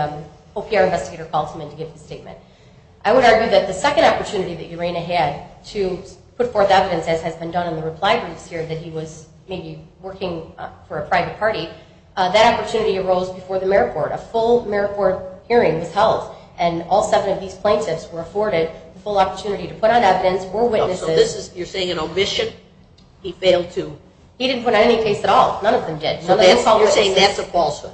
OPR investigator called him in to give the statement. I would argue that the second opportunity that Urena had to put forth evidence, as has been done in the reply briefs here, that he was maybe working for a private party, that opportunity arose before the marriage court. A full marriage court hearing was held, and all seven of these plaintiffs were afforded the full opportunity to put on evidence or witnesses- So this is, you're saying an omission? He failed to- He didn't put on any case at all. None of them did. You're saying that's a falsehood.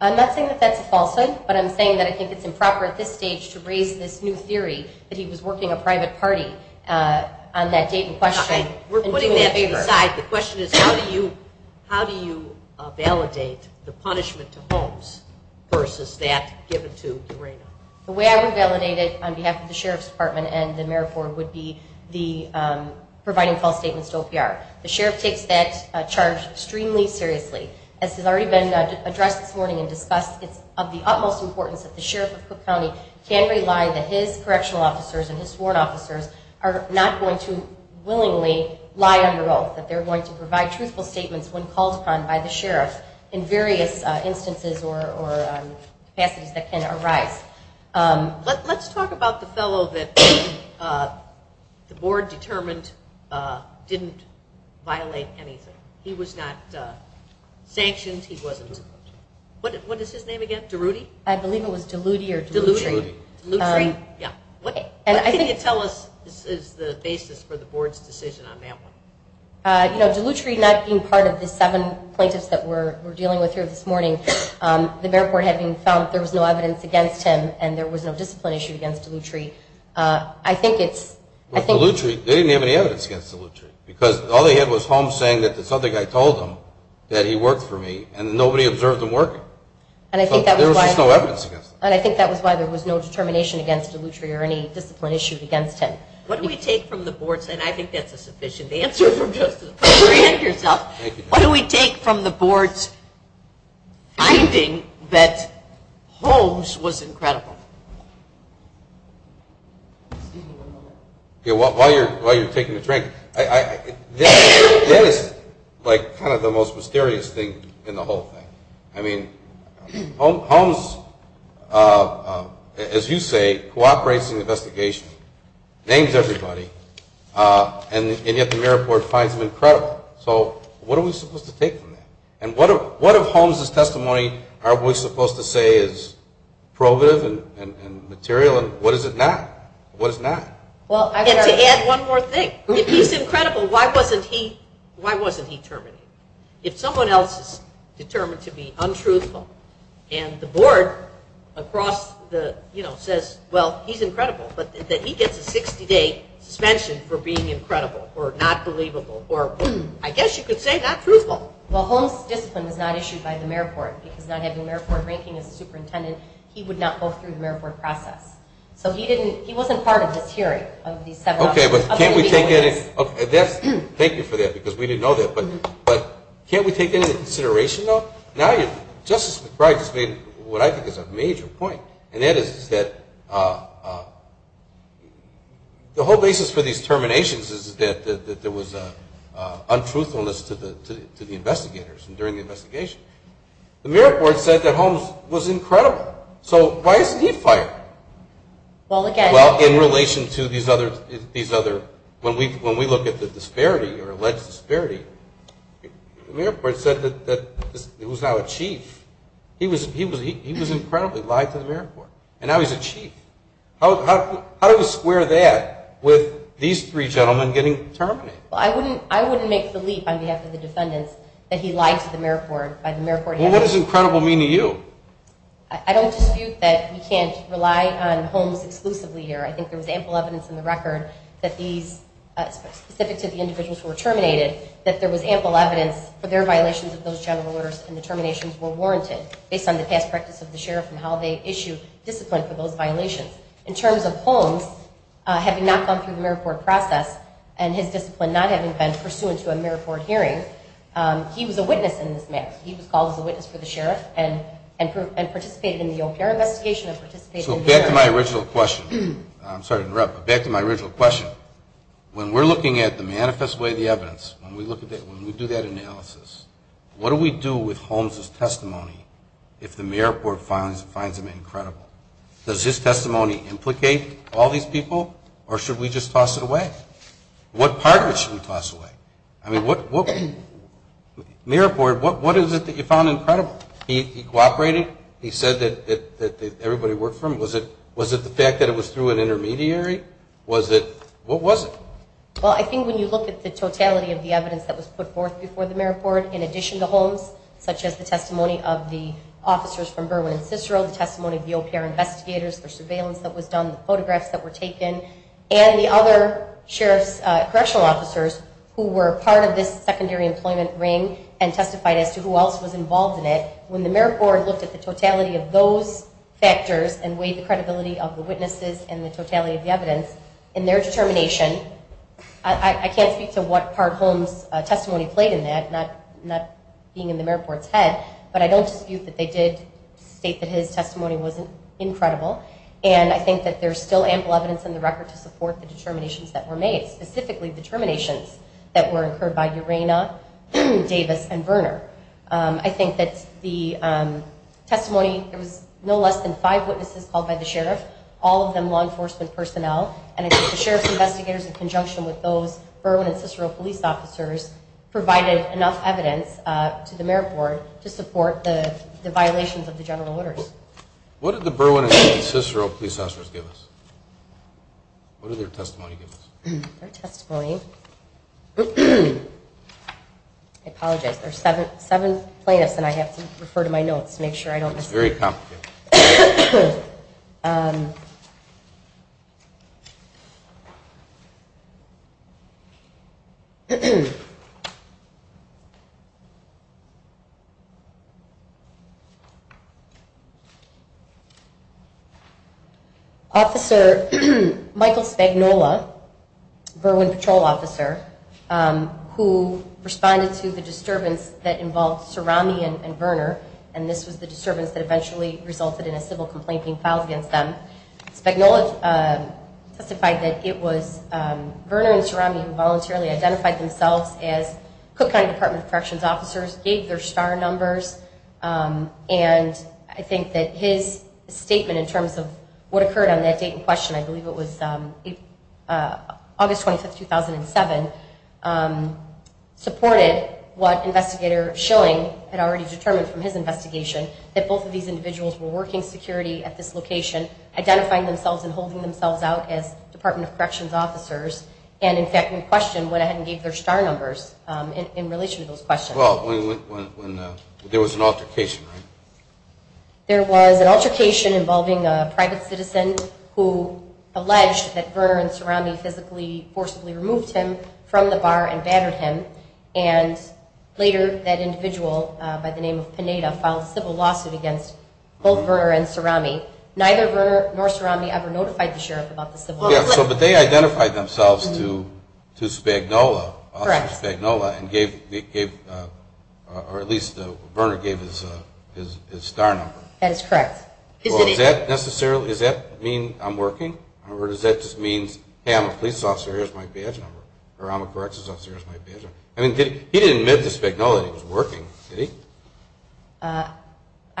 I'm not saying that that's a falsehood, but I'm saying that I think it's improper at this stage to raise this new theory that he was working a private party on that date in question- The question is how do you validate the punishment to Holmes versus that given to Urena? The way I would validate it on behalf of the Sheriff's Department and the marriage court would be providing false statements to OPR. The Sheriff takes that charge extremely seriously. As has already been addressed this morning and discussed, it's of the utmost importance that the Sheriff of Cook County can rely that his correctional officers and his sworn officers are not going to willingly lie on your oath, that they're going to provide truthful statements when called upon by the Sheriff in various instances or capacities that can arise. Let's talk about the fellow that the board determined didn't violate anything. He was not sanctioned. He wasn't- what is his name again? DeRudy? I believe it was DeLuty or DeLutry. DeLutry, yeah. What can you tell us is the basis for the board's decision on that one? You know, DeLutry not being part of the seven plaintiffs that we're dealing with here this morning, the marriage court having found there was no evidence against him and there was no discipline issue against DeLutry, I think it's- With DeLutry, they didn't have any evidence against DeLutry because all they had was Holmes saying that this other guy told him that he worked for me and nobody observed him working. And I think that was why- So there was just no evidence against him. What do we take from the board's- and I think that's a sufficient answer for just to apprehend yourself. What do we take from the board's finding that Holmes was incredible? While you're taking a drink, that is like kind of the most mysterious thing in the whole thing. I mean, Holmes, as you say, cooperates in the investigation, names everybody, and yet the marriage court finds him incredible. So what are we supposed to take from that? And what of Holmes' testimony are we supposed to say is probative and material, and what is it not? What is it not? And to add one more thing, if he's incredible, why wasn't he terminated? If someone else is determined to be untruthful and the board across the, you know, says, well, he's incredible, but that he gets a 60-day suspension for being incredible or not believable or I guess you could say not truthful. Well, Holmes' discipline was not issued by the marriage court because not having a marriage court ranking as a superintendent, he would not go through the marriage court process. So he didn't-he wasn't part of this hearing of these seven officers. Okay, but can't we take any-thank you for that because we didn't know that. But can't we take that into consideration, though? Now Justice McBride has made what I think is a major point, and that is that the whole basis for these terminations is that there was untruthfulness to the investigators and during the investigation. The marriage court said that Holmes was incredible. So why isn't he fired? Well, again- The marriage court said that he was now a chief. He was incredibly lied to the marriage court, and now he's a chief. How do we square that with these three gentlemen getting terminated? Well, I wouldn't make the leap on behalf of the defendants that he lied to the marriage court. Well, what does incredible mean to you? I don't dispute that we can't rely on Holmes exclusively here. I think there was ample evidence in the record that these-specific to the individuals who were terminated, that there was ample evidence for their violations of those general orders and the terminations were warranted based on the past practice of the sheriff and how they issued discipline for those violations. In terms of Holmes having not gone through the marriage court process and his discipline not having been pursuant to a marriage court hearing, he was a witness in this matter. He was called as a witness for the sheriff and participated in the OPR investigation and participated- So back to my original question. I'm sorry to interrupt, but back to my original question. When we're looking at the manifest way of the evidence, when we do that analysis, what do we do with Holmes' testimony if the marriage court finds him incredible? Does his testimony implicate all these people or should we just toss it away? What part of it should we toss away? I mean, marriage court, what is it that you found incredible? He cooperated. He said that everybody worked for him. Was it the fact that it was through an intermediary? Was it? What was it? Well, I think when you look at the totality of the evidence that was put forth before the marriage court in addition to Holmes, such as the testimony of the officers from Berwyn and Cicero, the testimony of the OPR investigators, the surveillance that was done, the photographs that were taken, and the other sheriff's correctional officers who were part of this secondary employment ring and testified as to who else was involved in it, when the marriage court looked at the totality of those factors and weighed the credibility of the witnesses and the totality of the evidence, in their determination, I can't speak to what part Holmes' testimony played in that, not being in the marriage court's head, but I don't dispute that they did state that his testimony was incredible, and I think that there's still ample evidence in the record to support the determinations that were made, specifically determinations that were incurred by Urena, Davis, and Verner. I think that the testimony, there was no less than five witnesses called by the sheriff, all of them law enforcement personnel, and I think the sheriff's investigators in conjunction with those Berwyn and Cicero police officers provided enough evidence to the marriage court to support the violations of the general orders. What did the Berwyn and Cicero police officers give us? What did their testimony give us? Their testimony. I apologize. There are seven plaintiffs, and I have to refer to my notes to make sure I don't miss anything. It's very complicated. Let's see. Officer Michael Spagnola, Berwyn patrol officer, who responded to the disturbance that involved Cerami and Verner, and this was the disturbance that eventually resulted in a civil complaint being filed against them. Spagnola testified that it was Verner and Cerami who voluntarily identified themselves as Cook County Department of Corrections officers, gave their star numbers, and I think that his statement in terms of what occurred on that date in question, I believe it was August 25, 2007, supported what Investigator Schilling had already determined from his investigation, that both of these individuals were working security at this location, identifying themselves and holding themselves out as Department of Corrections officers, and in fact in question went ahead and gave their star numbers in relation to those questions. Well, there was an altercation, right? There was an altercation involving a private citizen who alleged that Verner and Cerami physically forcibly removed him from the bar and banded him, and later that individual by the name of Pineda filed a civil lawsuit against both Verner and Cerami. Neither Verner nor Cerami ever notified the sheriff about the civil lawsuit. Yes, but they identified themselves to Spagnola and gave, or at least Verner gave his star number. That is correct. Well, does that necessarily, does that mean I'm working, or does that just mean, hey, I'm a police officer, here's my badge number, or I'm a corrections officer, here's my badge number? I mean, he didn't admit to Spagnola that he was working, did he?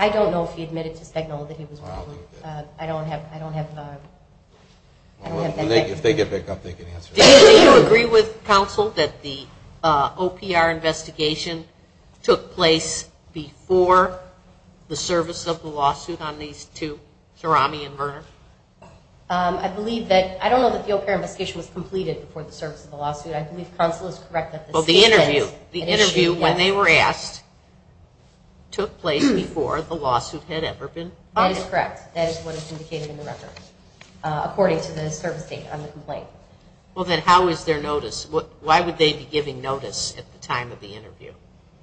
I don't know if he admitted to Spagnola that he was working. I don't have that. If they get back up, they can answer that. Do you agree with counsel that the OPR investigation took place before the service of the lawsuit on these two, Cerami and Verner? I believe that, I don't know that the OPR investigation was completed before the service of the lawsuit. I believe counsel is correct that the state sent an issue. Well, the interview, the interview when they were asked, took place before the lawsuit had ever been filed. That is correct. That is what is indicated in the record, according to the service date on the complaint. Well, then how is there notice? Why would they be giving notice at the time of the interview?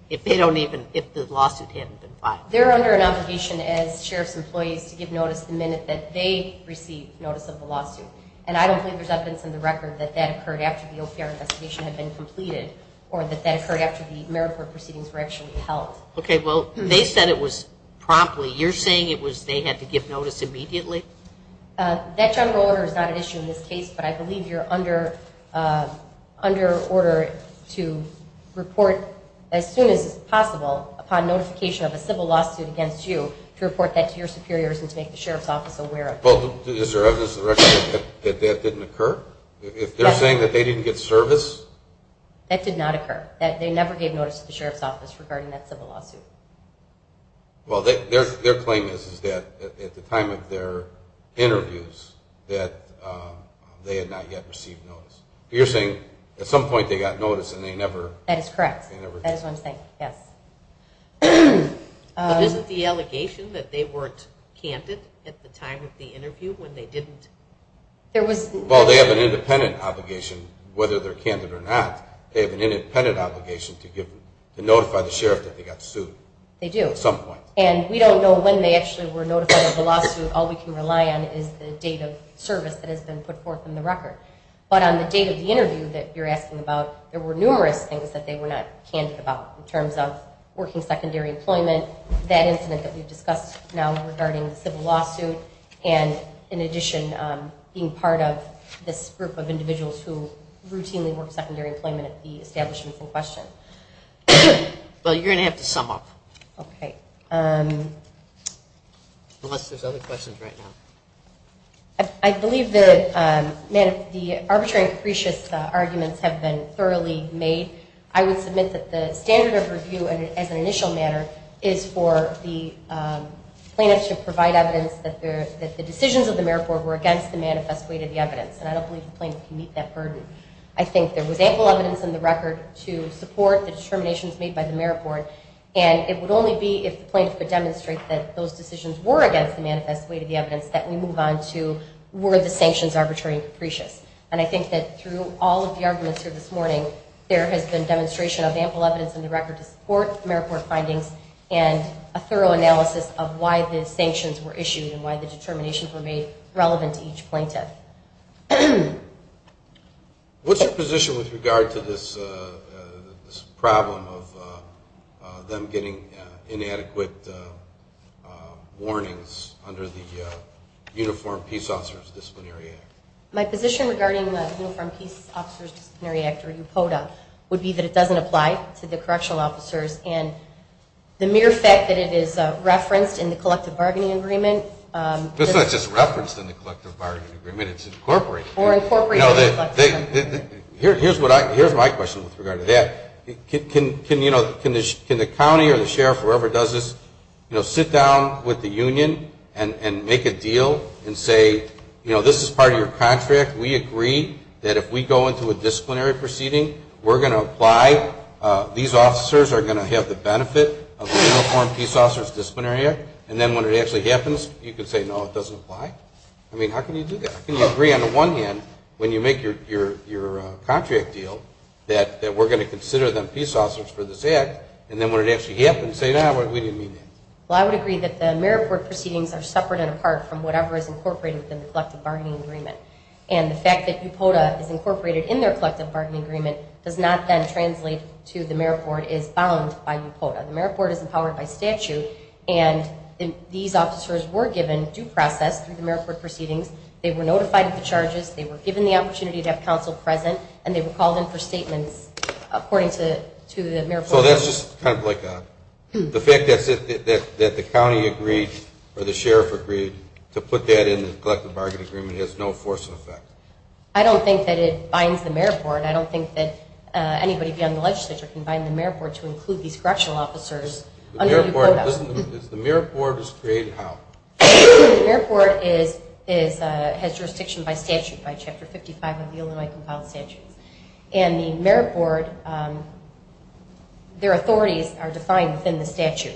If they don't even, if the lawsuit hadn't been filed. They're under an obligation as sheriff's employees to give notice the minute that they receive notice of the lawsuit. And I don't think there's evidence in the record that that occurred after the OPR investigation had been completed or that that occurred after the merit court proceedings were actually held. Okay, well, they said it was promptly. You're saying it was they had to give notice immediately? That general order is not an issue in this case, but I believe you're under order to report as soon as possible upon notification of a civil lawsuit against you to report that to your superiors and to make the sheriff's office aware of that. Well, is there evidence in the record that that didn't occur? If they're saying that they didn't get service? That did not occur. They never gave notice to the sheriff's office regarding that civil lawsuit. Well, their claim is that at the time of their interviews that they had not yet received notice. You're saying at some point they got notice and they never? That is correct. That is what I'm saying, yes. But isn't the allegation that they weren't candid at the time of the interview when they didn't? Well, they have an independent obligation, whether they're candid or not. They have an independent obligation to notify the sheriff that they got sued. They do. At some point. And we don't know when they actually were notified of the lawsuit. All we can rely on is the date of service that has been put forth in the record. But on the date of the interview that you're asking about, there were numerous things that they were not candid about in terms of working secondary employment, that incident that we've discussed now regarding the civil lawsuit, and in addition, being part of this group of individuals who routinely work secondary employment at the establishment in question. Well, you're going to have to sum up. Okay. Unless there's other questions right now. I believe that the arbitrary and capricious arguments have been thoroughly made. I would submit that the standard of review as an initial matter is for the plaintiff to provide evidence that the decisions of the merit board were against the manifest way to the evidence, and I don't believe the plaintiff can meet that burden. I think there was ample evidence in the record to support the determinations made by the merit board, and it would only be if the plaintiff could demonstrate that those decisions were against the manifest way to the evidence that we move on to were the sanctions arbitrary and capricious. And I think that through all of the arguments here this morning, there has been demonstration of ample evidence in the record to support merit board findings and a thorough analysis of why the sanctions were issued and why the determinations were made relevant to each plaintiff. What's your position with regard to this problem of them getting inadequate warnings under the Uniform Peace Officers Disciplinary Act? My position regarding the Uniform Peace Officers Disciplinary Act, or UPODA, and the mere fact that it is referenced in the collective bargaining agreement. It's not just referenced in the collective bargaining agreement. It's incorporated. Here's my question with regard to that. Can the county or the sheriff or whoever does this, sit down with the union and make a deal and say, this is part of your contract. We agree that if we go into a disciplinary proceeding, we're going to apply. These officers are going to have the benefit of the Uniform Peace Officers Disciplinary Act. And then when it actually happens, you can say, no, it doesn't apply. I mean, how can you do that? How can you agree on the one hand when you make your contract deal that we're going to consider them peace officers for this act, and then when it actually happens, say, no, we didn't mean that. Well, I would agree that the merit board proceedings are separate and apart from whatever is incorporated within the collective bargaining agreement. And the fact that UPOTA is incorporated in their collective bargaining agreement does not then translate to the merit board is bound by UPOTA. The merit board is empowered by statute, and these officers were given due process through the merit board proceedings. They were notified of the charges. They were given the opportunity to have counsel present, and they were called in for statements according to the merit board. So that's just kind of like the fact that the county agreed or the sheriff agreed to put that in the collective bargaining agreement and has no force of effect. I don't think that it binds the merit board. I don't think that anybody beyond the legislature can bind the merit board to include these correctional officers under UPOTA. The merit board is created how? The merit board has jurisdiction by statute, by Chapter 55 of the Illinois Compiled Statutes. And the merit board, their authorities are defined within the statute.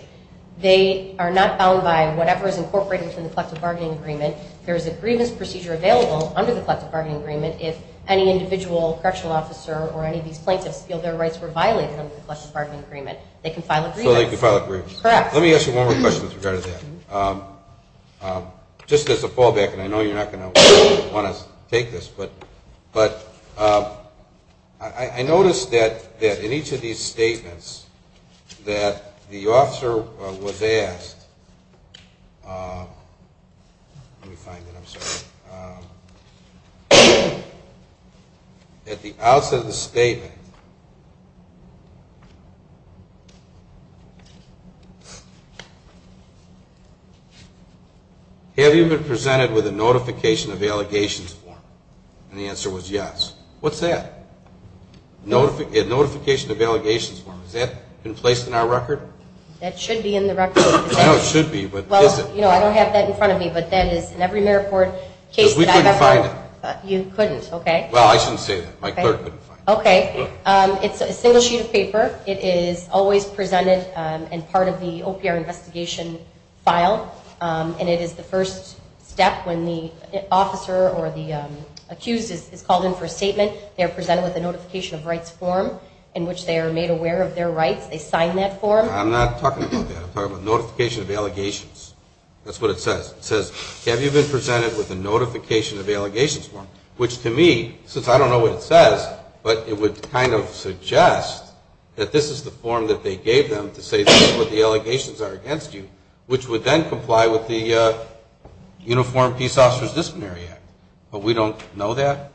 They are not bound by whatever is incorporated within the collective bargaining agreement. There is a grievance procedure available under the collective bargaining agreement if any individual correctional officer or any of these plaintiffs feel their rights were violated under the collective bargaining agreement, they can file a grievance. So they can file a grievance. Correct. Let me ask you one more question with regard to that. Just as a fallback, and I know you're not going to want to take this, but I noticed that in each of these statements that the officer was asked, let me find it, I'm sorry, at the outset of the statement, have you been presented with a notification of allegations form? And the answer was yes. What's that? A notification of allegations form. Has that been placed in our record? That should be in the record. I know it should be, but is it? Well, you know, I don't have that in front of me, but that is in every merit board case that I've ever owned. Because we couldn't find it. You couldn't, okay. Well, I shouldn't say that. My clerk couldn't find it. Okay. It's a single sheet of paper. It is always presented and part of the OPR investigation file. And it is the first step when the officer or the accused is called in for a statement. They are presented with a notification of rights form in which they are made aware of their rights. They sign that form. I'm not talking about that. I'm talking about notification of allegations. That's what it says. It says, have you been presented with a notification of allegations form? Which to me, since I don't know what it says, but it would kind of suggest that this is the form that they gave them to say, this is what the allegations are against you, which would then comply with the Uniform Peace Officers' Disciplinary Act. But we don't know that?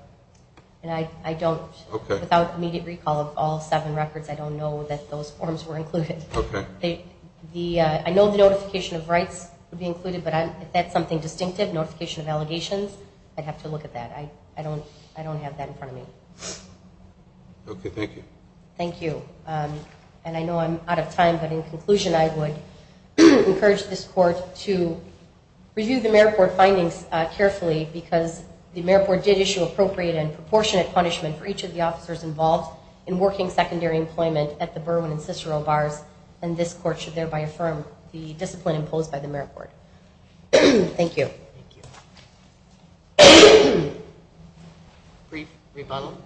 I don't. Okay. Without immediate recall of all seven records, I don't know that those forms were included. Okay. I know the notification of rights would be included, but if that's something distinctive, notification of allegations, I'd have to look at that. I don't have that in front of me. Okay. Thank you. Thank you. And I know I'm out of time, but in conclusion I would encourage this court to review the Merit Board findings carefully because the Merit Board did issue appropriate and proportionate punishment for each of the officers involved in working secondary employment at the Berwyn and Cicero bars, and this court should thereby affirm the discipline imposed by the Merit Board. Thank you. Thank you. Brief rebuttal.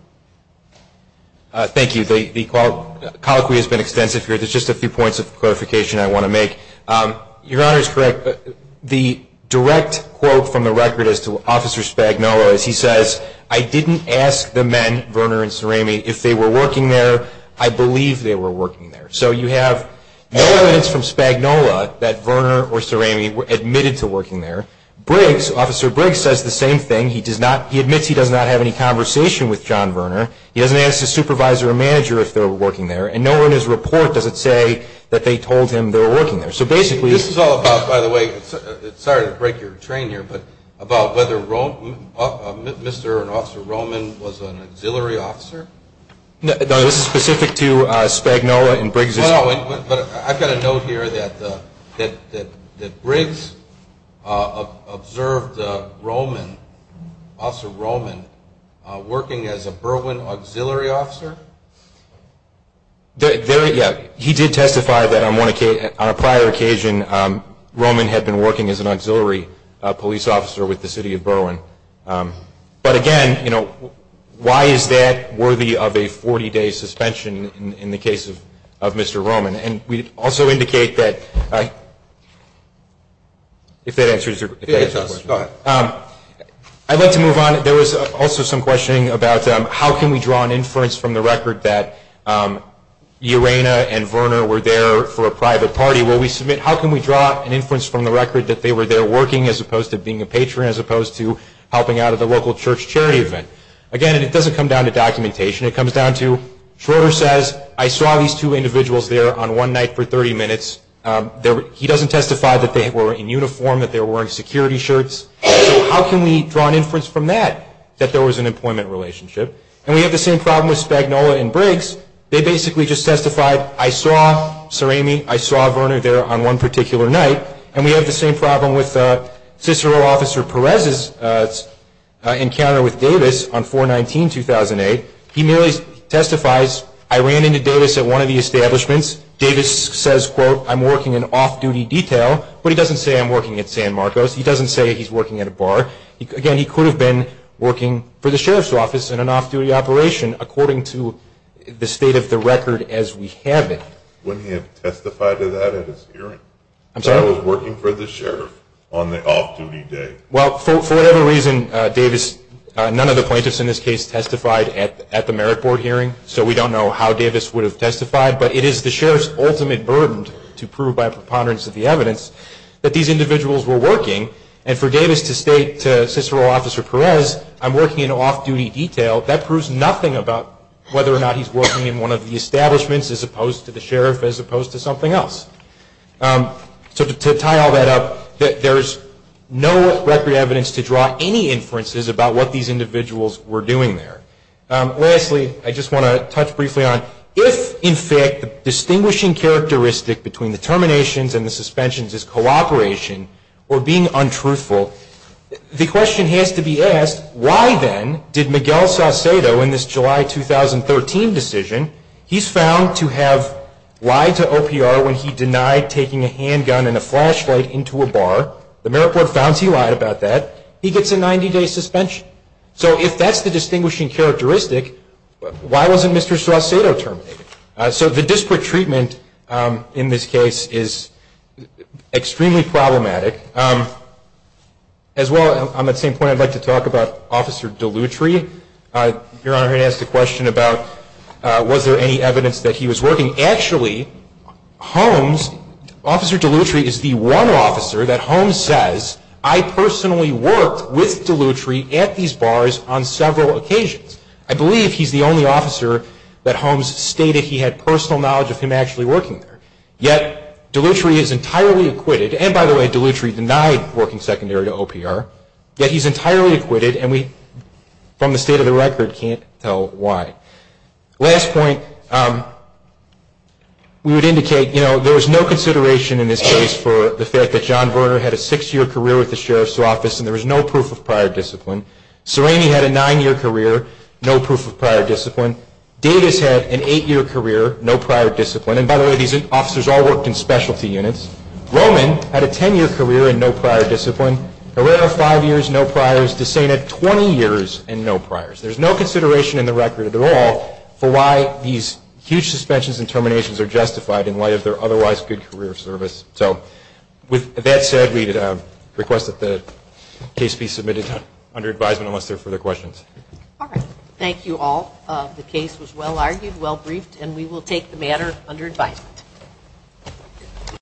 Thank you. The colloquy has been extensive here. There's just a few points of clarification I want to make. Your Honor is correct. The direct quote from the record as to Officer Spagnola is he says, I didn't ask the men, Verner and Cerami, if they were working there. I believe they were working there. So you have evidence from Spagnola that Verner or Cerami admitted to working there. Briggs, Officer Briggs, says the same thing. He admits he does not have any conversation with John Verner. He doesn't ask his supervisor or manager if they were working there, and no one in his report does it say that they told him they were working there. So basically this is all about, by the way, sorry to break your train here, but about whether Mr. and Officer Roman was an auxiliary officer. No, this is specific to Spagnola and Briggs. I've got a note here that Briggs observed Roman, Officer Roman, working as a Berwyn auxiliary officer. He did testify that on a prior occasion Roman had been working as an auxiliary police officer with the city of Berwyn. But, again, you know, why is that worthy of a 40-day suspension in the case of Mr. Roman? And we also indicate that if that answers your question. It does. Go ahead. I'd like to move on. There was also some questioning about how can we draw an inference from the record that Urena and Verner were there for a private party? Will we submit how can we draw an inference from the record that they were there working as opposed to being a patron as opposed to helping out at the local church charity event? Again, it doesn't come down to documentation. It comes down to Schroeder says, I saw these two individuals there on one night for 30 minutes. He doesn't testify that they were in uniform, that they were wearing security shirts. How can we draw an inference from that that there was an employment relationship? And we have the same problem with Spagnola and Briggs. They basically just testified, I saw Sir Amy, I saw Verner there on one particular night, and we have the same problem with Cicero Officer Perez's encounter with Davis on 4-19-2008. He merely testifies, I ran into Davis at one of the establishments. Davis says, quote, I'm working in off-duty detail, but he doesn't say I'm working at San Marcos. He doesn't say he's working at a bar. Again, he could have been working for the sheriff's office in an off-duty operation according to the state of the record as we have it. Wouldn't he have testified to that at his hearing? I'm sorry? I was working for the sheriff on the off-duty day. Well, for whatever reason, Davis, none of the plaintiffs in this case testified at the merit board hearing, so we don't know how Davis would have testified, but it is the sheriff's ultimate burden to prove by a preponderance of the evidence that these individuals were working. And for Davis to state to Cicero Officer Perez, I'm working in off-duty detail, that proves nothing about whether or not he's working in one of the establishments as opposed to the sheriff, as opposed to something else. So to tie all that up, there's no record evidence to draw any inferences about what these individuals were doing there. Lastly, I just want to touch briefly on if, in fact, the distinguishing characteristic between the terminations and the suspensions is cooperation or being untruthful, the question has to be asked, why then did Miguel Saucedo in this July 2013 decision, he's found to have lied to OPR when he denied taking a handgun and a flashlight into a bar. The merit board found he lied about that. He gets a 90-day suspension. So if that's the distinguishing characteristic, why wasn't Mr. Saucedo terminated? So the disparate treatment in this case is extremely problematic. As well, on that same point, I'd like to talk about Officer Dellutri. Your Honor, he asked a question about was there any evidence that he was working. Actually, Holmes, Officer Dellutri is the one officer that Holmes says, I personally worked with Dellutri at these bars on several occasions. I believe he's the only officer that Holmes stated he had personal knowledge of him actually working there. Yet, Dellutri is entirely acquitted. And, by the way, Dellutri denied working secondary to OPR. Yet, he's entirely acquitted, and we, from the state of the record, can't tell why. Last point, we would indicate, you know, there was no consideration in this case for the fact that John Verner had a six-year career with the Sheriff's Office, and there was no proof of prior discipline. Serrani had a nine-year career, no proof of prior discipline. Davis had an eight-year career, no prior discipline. And, by the way, these officers all worked in specialty units. Roman had a ten-year career and no prior discipline. Herrera, five years, no priors. DeSena, 20 years and no priors. There's no consideration in the record at all for why these huge suspensions and terminations are justified in light of their otherwise good career service. So, with that said, we request that the case be submitted under advisement unless there are further questions. All right. Thank you all. The case was well-argued, well-briefed, and we will take the matter under advisement.